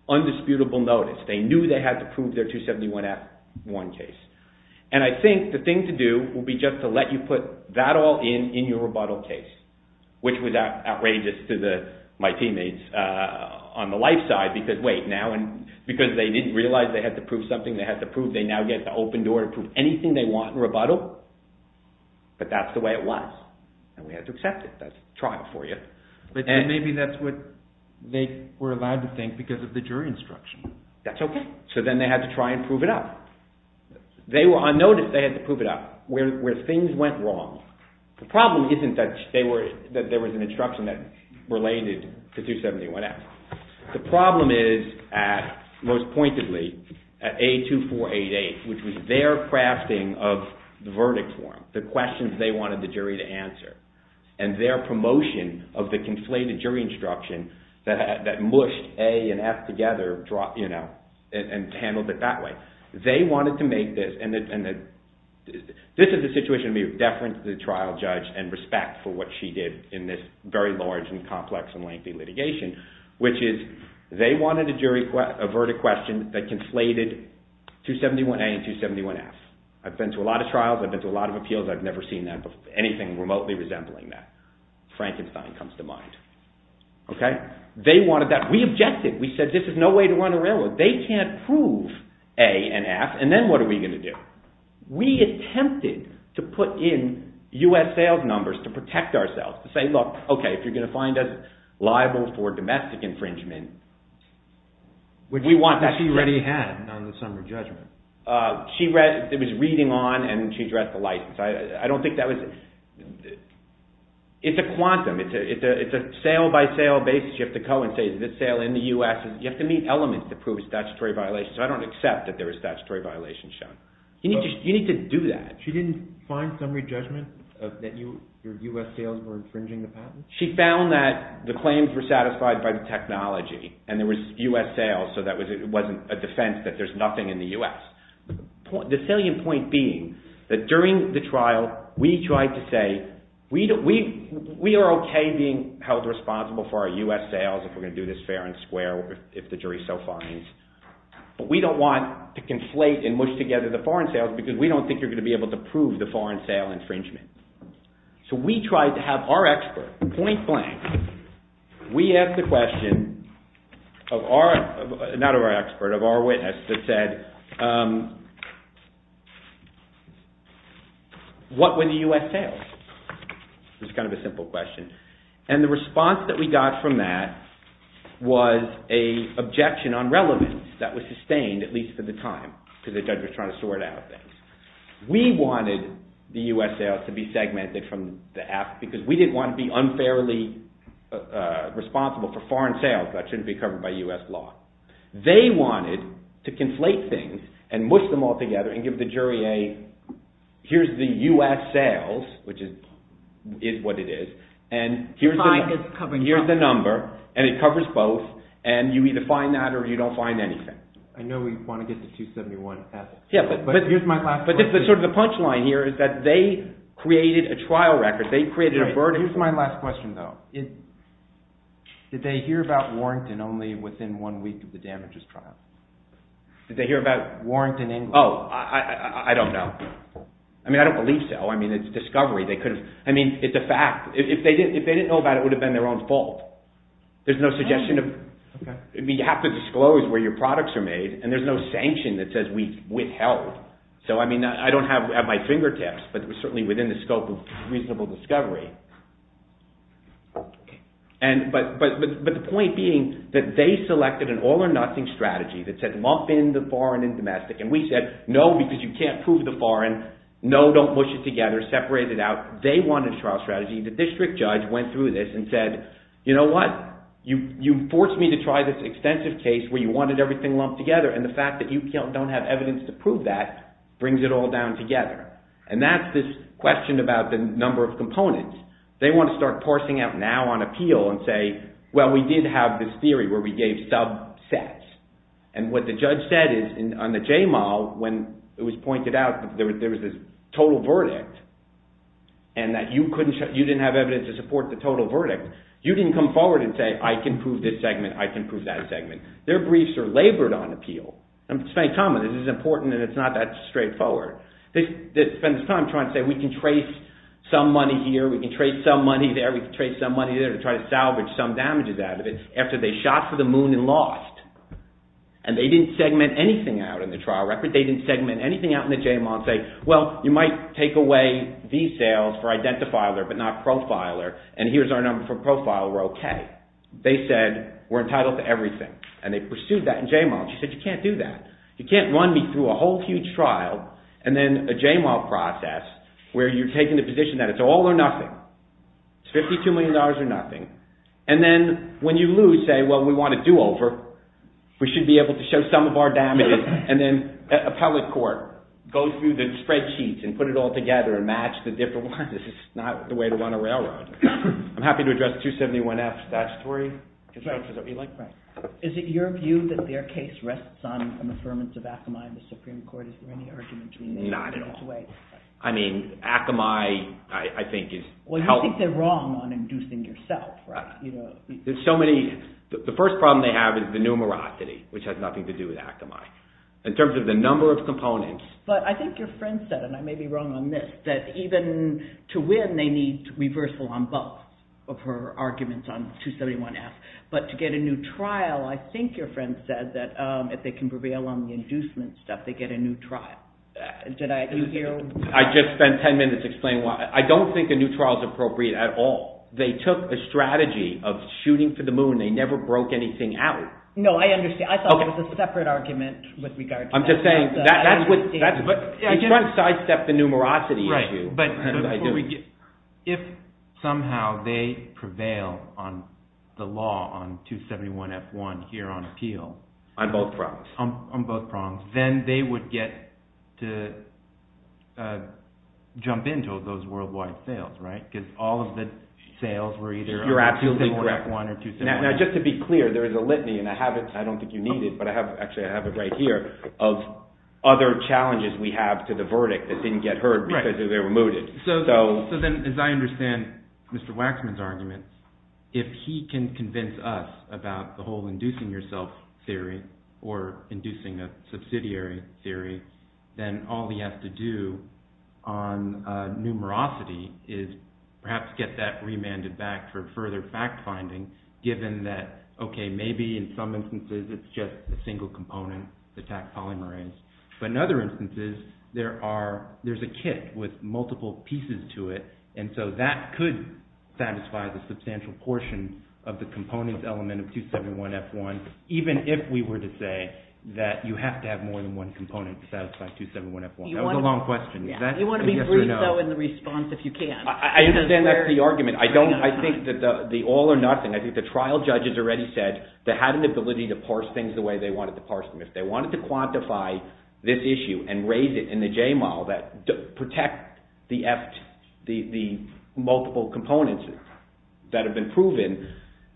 undisputable notice. They knew they had to prove their 271F1 case. And I think the thing to do would be just to let you put that all in in your rebuttal case, which was outrageous to my teammates on the life side because, wait, now because they didn't realize they had to prove something, they had to prove they now get the open door to prove anything they want in rebuttal, but that's the way it was, and we had to accept it. That's trial for you. But maybe that's what they were allowed to think because of the jury instruction. That's okay. So then they had to try and prove it up. They were unnoticed. They had to prove it up. Where things went wrong, the problem isn't that there was an instruction that related to 271F. The problem is, most pointedly, at A2488, which was their crafting of the verdict form, the questions they wanted the jury to answer, and their promotion of the conflated jury instruction that mushed A and F together and handled it that way. They wanted to make this, and this is a situation to be deference to the trial judge and respect for what she did in this very large and complex and lengthy litigation, which is they wanted the jury to avert a question that conflated 271A and 271F. I've been to a lot of trials. I've been to a lot of appeals. I've never seen anything remotely resembling that. Frankenstein comes to mind. Okay? They wanted that. We objected. We said this is no way to run a railroad. They can't prove A and F, and then what are we going to do? We attempted to put in U.S. sales numbers to protect ourselves, to say, look, okay, if you're going to find us liable for domestic infringement, we want that. What did she already have on the summary judgment? It was reading on, and she's read the license. I don't think that was it. It's a quantum. It's a sale-by-sale basis. You have to coincide. This sale in the U.S. You have to meet elements to prove a statutory violation, so I don't accept that there were statutory violations shown. You need to do that. She didn't find summary judgment that your U.S. sales were infringing the patent? She found that the claims were satisfied by the technology, and there was U.S. sales, so it wasn't a defense that there's nothing in the U.S. The salient point being that during the trial, we tried to say we are okay being held responsible for our U.S. sales if we're going to do this fair and square if the jury so finds, but we don't want to conflate and mush together the foreign sales because we don't think you're going to be able to prove the foreign sale infringement. So we tried to have our expert point blank. We asked the question of our, not of our expert, of our witness, that said what were the U.S. sales? It was kind of a simple question, and the response that we got from that was an objection on relevance that was sustained at least for the time because the judge was trying to sort out things. We wanted the U.S. sales to be segmented from the app responsible for foreign sales. That shouldn't be covered by U.S. law. They wanted to conflate things and mush them all together and give the jury a, here's the U.S. sales, which is what it is, and here's the number, and it covers both, and you either find that or you don't find anything. I know we want to get to 271, but here's my last question. But sort of the punchline here is that they created a trial record. They created a verdict. Here's my last question, though. Did they hear about Warrington only within one week of the damages trial? Did they hear about Warrington in— Oh, I don't know. I mean, I don't believe so. I mean, it's a discovery. They could have—I mean, it's a fact. If they didn't know about it, it would have been their own fault. There's no suggestion of— Okay. I mean, you have to disclose where your products are made, and there's no sanction that says we withheld. So, I mean, I don't have my fingertips, but it was certainly within the scope of reasonable discovery. But the point being that they selected an all-or-nothing strategy that said lump in the foreign and domestic, and we said, no, because you can't prove the foreign. No, don't mush it together. Separate it out. They wanted a trial strategy. The district judge went through this and said, you know what? You forced me to try this extensive case where you wanted everything lumped together, and the fact that you don't have evidence to prove that brings it all down together. And that's this question about the number of components. They want to start parsing out now on appeal and say, well, we did have this theory where we gave subsets. And what the judge said on the J-MAL when it was pointed out that there was this total verdict and that you didn't have evidence to support the total verdict, you didn't come forward and say, I can prove this segment, I can prove that segment. Their briefs are labored on appeal. This is important, and it's not that straightforward. They spend time trying to say we can trace some money here, we can trace some money there, we can trace some money there to try to salvage some damages out of it after they shot for the moon and lost. And they didn't segment anything out in the trial record. They didn't segment anything out in the J-MAL and say, well, you might take away these sales for identifier but not profiler, and here's our number for profiler, okay. They said we're entitled to everything, and they pursued that in J-MAL. She said you can't do that. You can't run me through a whole huge trial and then a J-MAL process where you're taking the position that it's all or nothing. It's $52 million or nothing. And then when you lose, say, well, we want a do-over. We should be able to show some of our damages. And then appellate court goes through the spreadsheets and put it all together and match the different ones. This is not the way to run a railroad. I'm happy to address 271F, that story. Right. Is it your view that their case rests on an affirmance of Akamai in the Supreme Court? Is there any argument between them in this way? Not at all. I mean, Akamai, I think, is helping. Well, you think they're wrong on inducing yourself, right? There's so many. The first problem they have is the numerosity, which has nothing to do with Akamai. In terms of the number of components. But I think your friend said, and I may be wrong on this, that even to win, they need reversal on both of her arguments on 271F. But to get a new trial, I think your friend said, that if they can prevail on the inducement stuff, they get a new trial. Did I— I just spent ten minutes explaining why. I don't think a new trial is appropriate at all. They took a strategy of shooting for the moon. They never broke anything out. No, I understand. I thought there was a separate argument with regard to that. I'm just saying, that's what— Right, but if somehow they prevail on the law on 271F1 here on appeal— On both prongs. On both prongs. Then they would get to jump into those worldwide sales, right? Because all of the sales were either on 271F1 or 271F1. You're absolutely correct. Now, just to be clear, there is a litany, and I have it— I don't think you need it, but I have it right here— other challenges we have to the verdict that didn't get heard because they were mooted. So then, as I understand Mr. Waxman's argument, if he can convince us about the whole inducing yourself theory, or inducing a subsidiary theory, then all he has to do on numerosity is perhaps get that remanded back for further fact-finding, given that, okay, maybe in some instances it's just a single component, the tax polymerase. But in other instances, there's a kit with multiple pieces to it, and so that could satisfy the substantial portion of the components element of 271F1, even if we were to say that you have to have more than one component to satisfy 271F1. That was a long question. You want to be brief, though, in the response, if you can. I understand that's the argument. I think that the all or nothing, I think the trial judges already said that they had an ability to parse things the way they wanted to parse them. If they wanted to quantify this issue and raise it in the J model that protects the multiple components that have been proven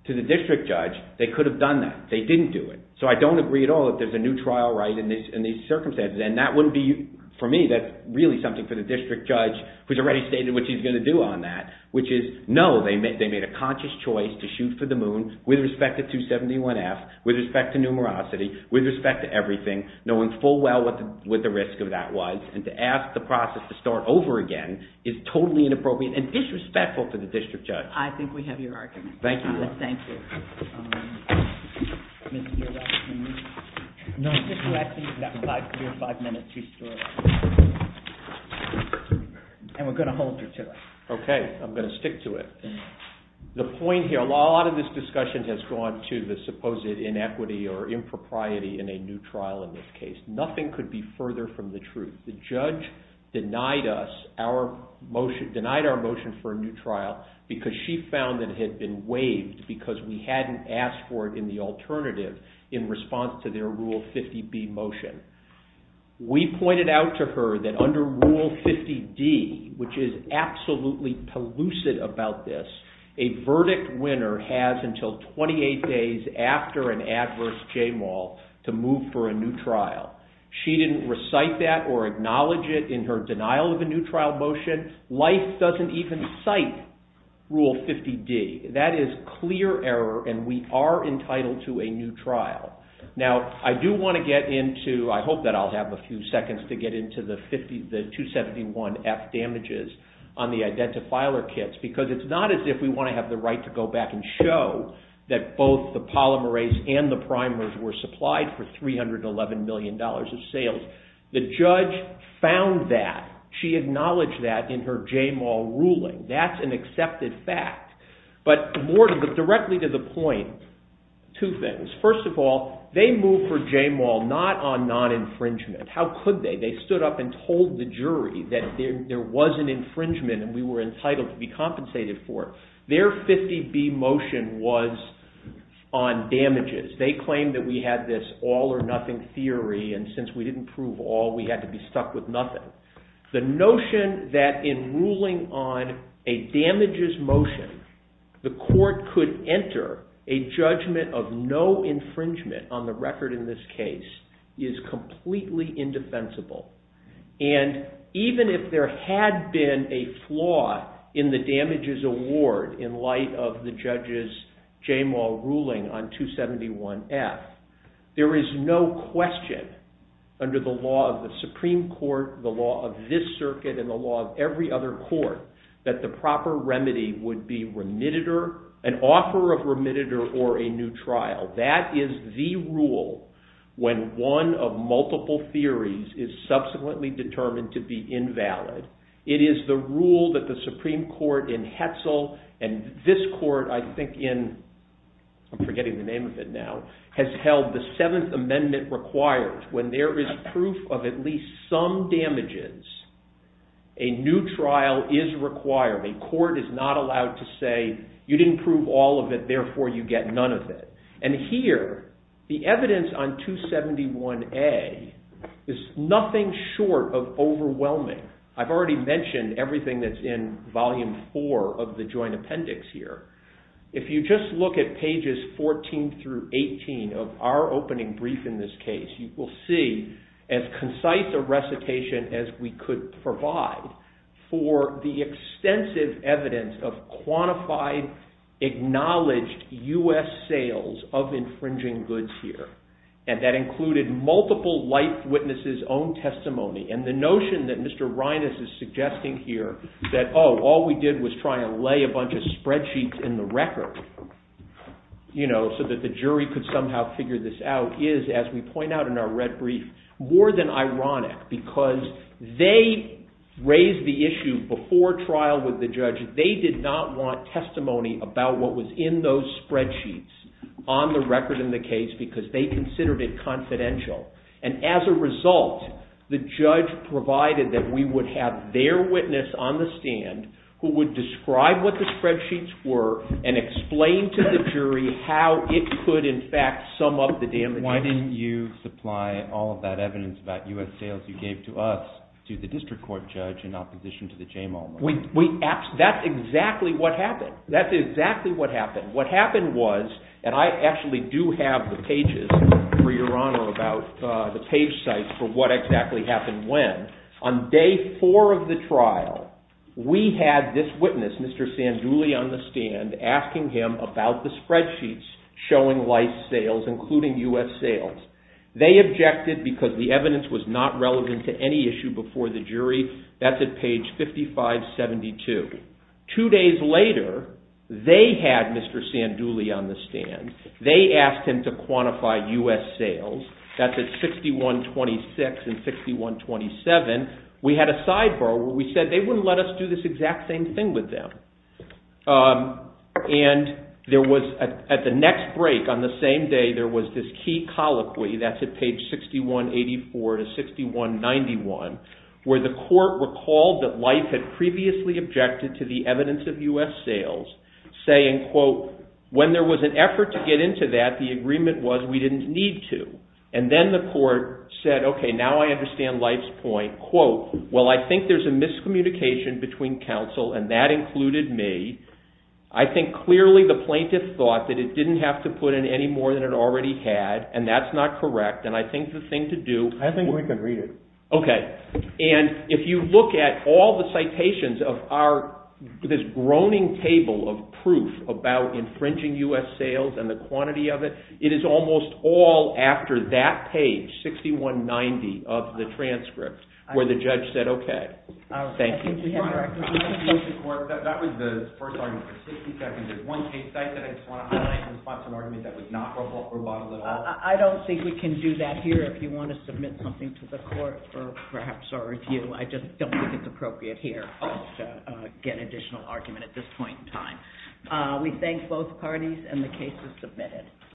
to the district judge, they could have done that. They didn't do it. So I don't agree at all that there's a new trial right in these circumstances, and that wouldn't be, for me, that's really something for the district judge, who's already stated what he's going to do on that, which is, no, they made a conscious choice to shoot for the moon with respect to 271F, with respect to numerosity, with respect to everything, knowing full well what the risk of that was, and to ask the process to start over again is totally inappropriate and disrespectful to the district judge. I think we have your argument. Thank you. And we're going to hold her to it. Okay. I'm going to stick to it. The point here, a lot of this discussion has gone to the supposed inequity or impropriety in a new trial in this case. Nothing could be further from the truth. The judge denied our motion for a new trial because she found that it had been waived because we hadn't asked for it in the alternative in response to their Rule 50B motion. We pointed out to her that under Rule 50D, which is absolutely pellucid about this, a verdict winner has until 28 days after an adverse chain wall to move for a new trial. She didn't recite that or acknowledge it in her denial of a new trial motion. Life doesn't even cite Rule 50D. That is clear error, and we are entitled to a new trial. Now, I do want to get into, I hope that I'll have a few seconds to get into the 271F damages on the identifier kits because it's not as if we want to have the right to go back and show that both the polymerase and the primers were supplied for $311 million of sales. The judge found that. She acknowledged that in her J-Mall ruling. That's an accepted fact. But more directly to the point, two things. First of all, they moved for J-Mall not on non-infringement. How could they? They stood up and told the jury that there was an infringement and we were entitled to be compensated for it. Their 50B motion was on damages. They claimed that we had this all or nothing theory, and since we didn't prove all, we had to be stuck with nothing. The notion that in ruling on a damages motion, the court could enter a judgment of no infringement on the record in this case is completely indefensible. And even if there had been a flaw in the damages award in light of the judge's J-Mall ruling on 271F, there is no question under the law of the Supreme Court, the law of this circuit, and the law of every other court that the proper remedy would be an offer of remediator or a new trial. That is the rule when one of multiple theories is subsequently determined to be invalid. It is the rule that the Supreme Court in Hetzel and this court, I think in I'm forgetting the name of it now, has held the Seventh Amendment requires when there is proof of at least some damages, a new trial is required. A court is not allowed to say you didn't prove all of it, therefore you get none of it. And here, the evidence on 271A is nothing short of overwhelming. I've already mentioned everything that's in Volume 4 of the Joint Appendix here. If you just look at pages 14 through 18 of our opening brief in this case, you will see as concise a recitation as we could provide for the extensive evidence of quantified, acknowledged U.S. sales of infringing goods here. And that included multiple life witnesses' own testimony. And the notion that Mr. Reines is suggesting here that all we did was try and lay a bunch of spreadsheets in the record so that the jury could somehow figure this out is, as we point out in our red brief, more than ironic because they raised the issue before trial with the judge. They did not want testimony about what was in those spreadsheets on the record in the case because they considered it confidential. And as a result, the judge provided that we would have their witness on the stand who would describe what the spreadsheets were and explain to the jury how it could, in fact, sum up the damages. Why didn't you supply all of that evidence about U.S. sales you gave to us to the district court judge in opposition to the J-mall? That's exactly what happened. That's exactly what happened. What happened was, and I actually do have the pages for Your Honor about the page size for what exactly happened when. On day four of the trial, we had this witness, Mr. Sanduli on the stand, asking him about the spreadsheets showing lice sales, including U.S. sales. They objected because the evidence was not relevant to any issue before the jury. That's at page 5572. Two days later, they had Mr. Sanduli on the stand. They asked him to quantify U.S. sales. That's at 6126 and 6127. We had a sidebar where we said they wouldn't let us do this exact same thing with them. At the next break on the same day, there was this key colloquy. That's at page 6184 to 6191, where the court recalled that Life had previously objected to the evidence of U.S. sales, saying, quote, when there was an effort to get into that, the agreement was we didn't need to. And then the court said, okay, now I understand Life's point. Quote, well, I think there's a miscommunication between counsel, and that included me. I think clearly the plaintiff thought that it didn't have to put in any more than it already had, and that's not correct, and I think the thing to do— I think we can read it. Okay. And if you look at all the citations of this groaning table of proof about infringing U.S. sales and the quantity of it, it is almost all after that page, 6190 of the transcript, where the judge said, okay, thank you. Your Honor, that was the first argument for 60 seconds. There's one case that I just want to highlight in response to an argument that was not rebuttal at all. I don't think we can do that here. If you want to submit something to the court for perhaps our review, I just don't think it's appropriate here to get an additional argument at this point in time. We thank both parties, and the case is submitted.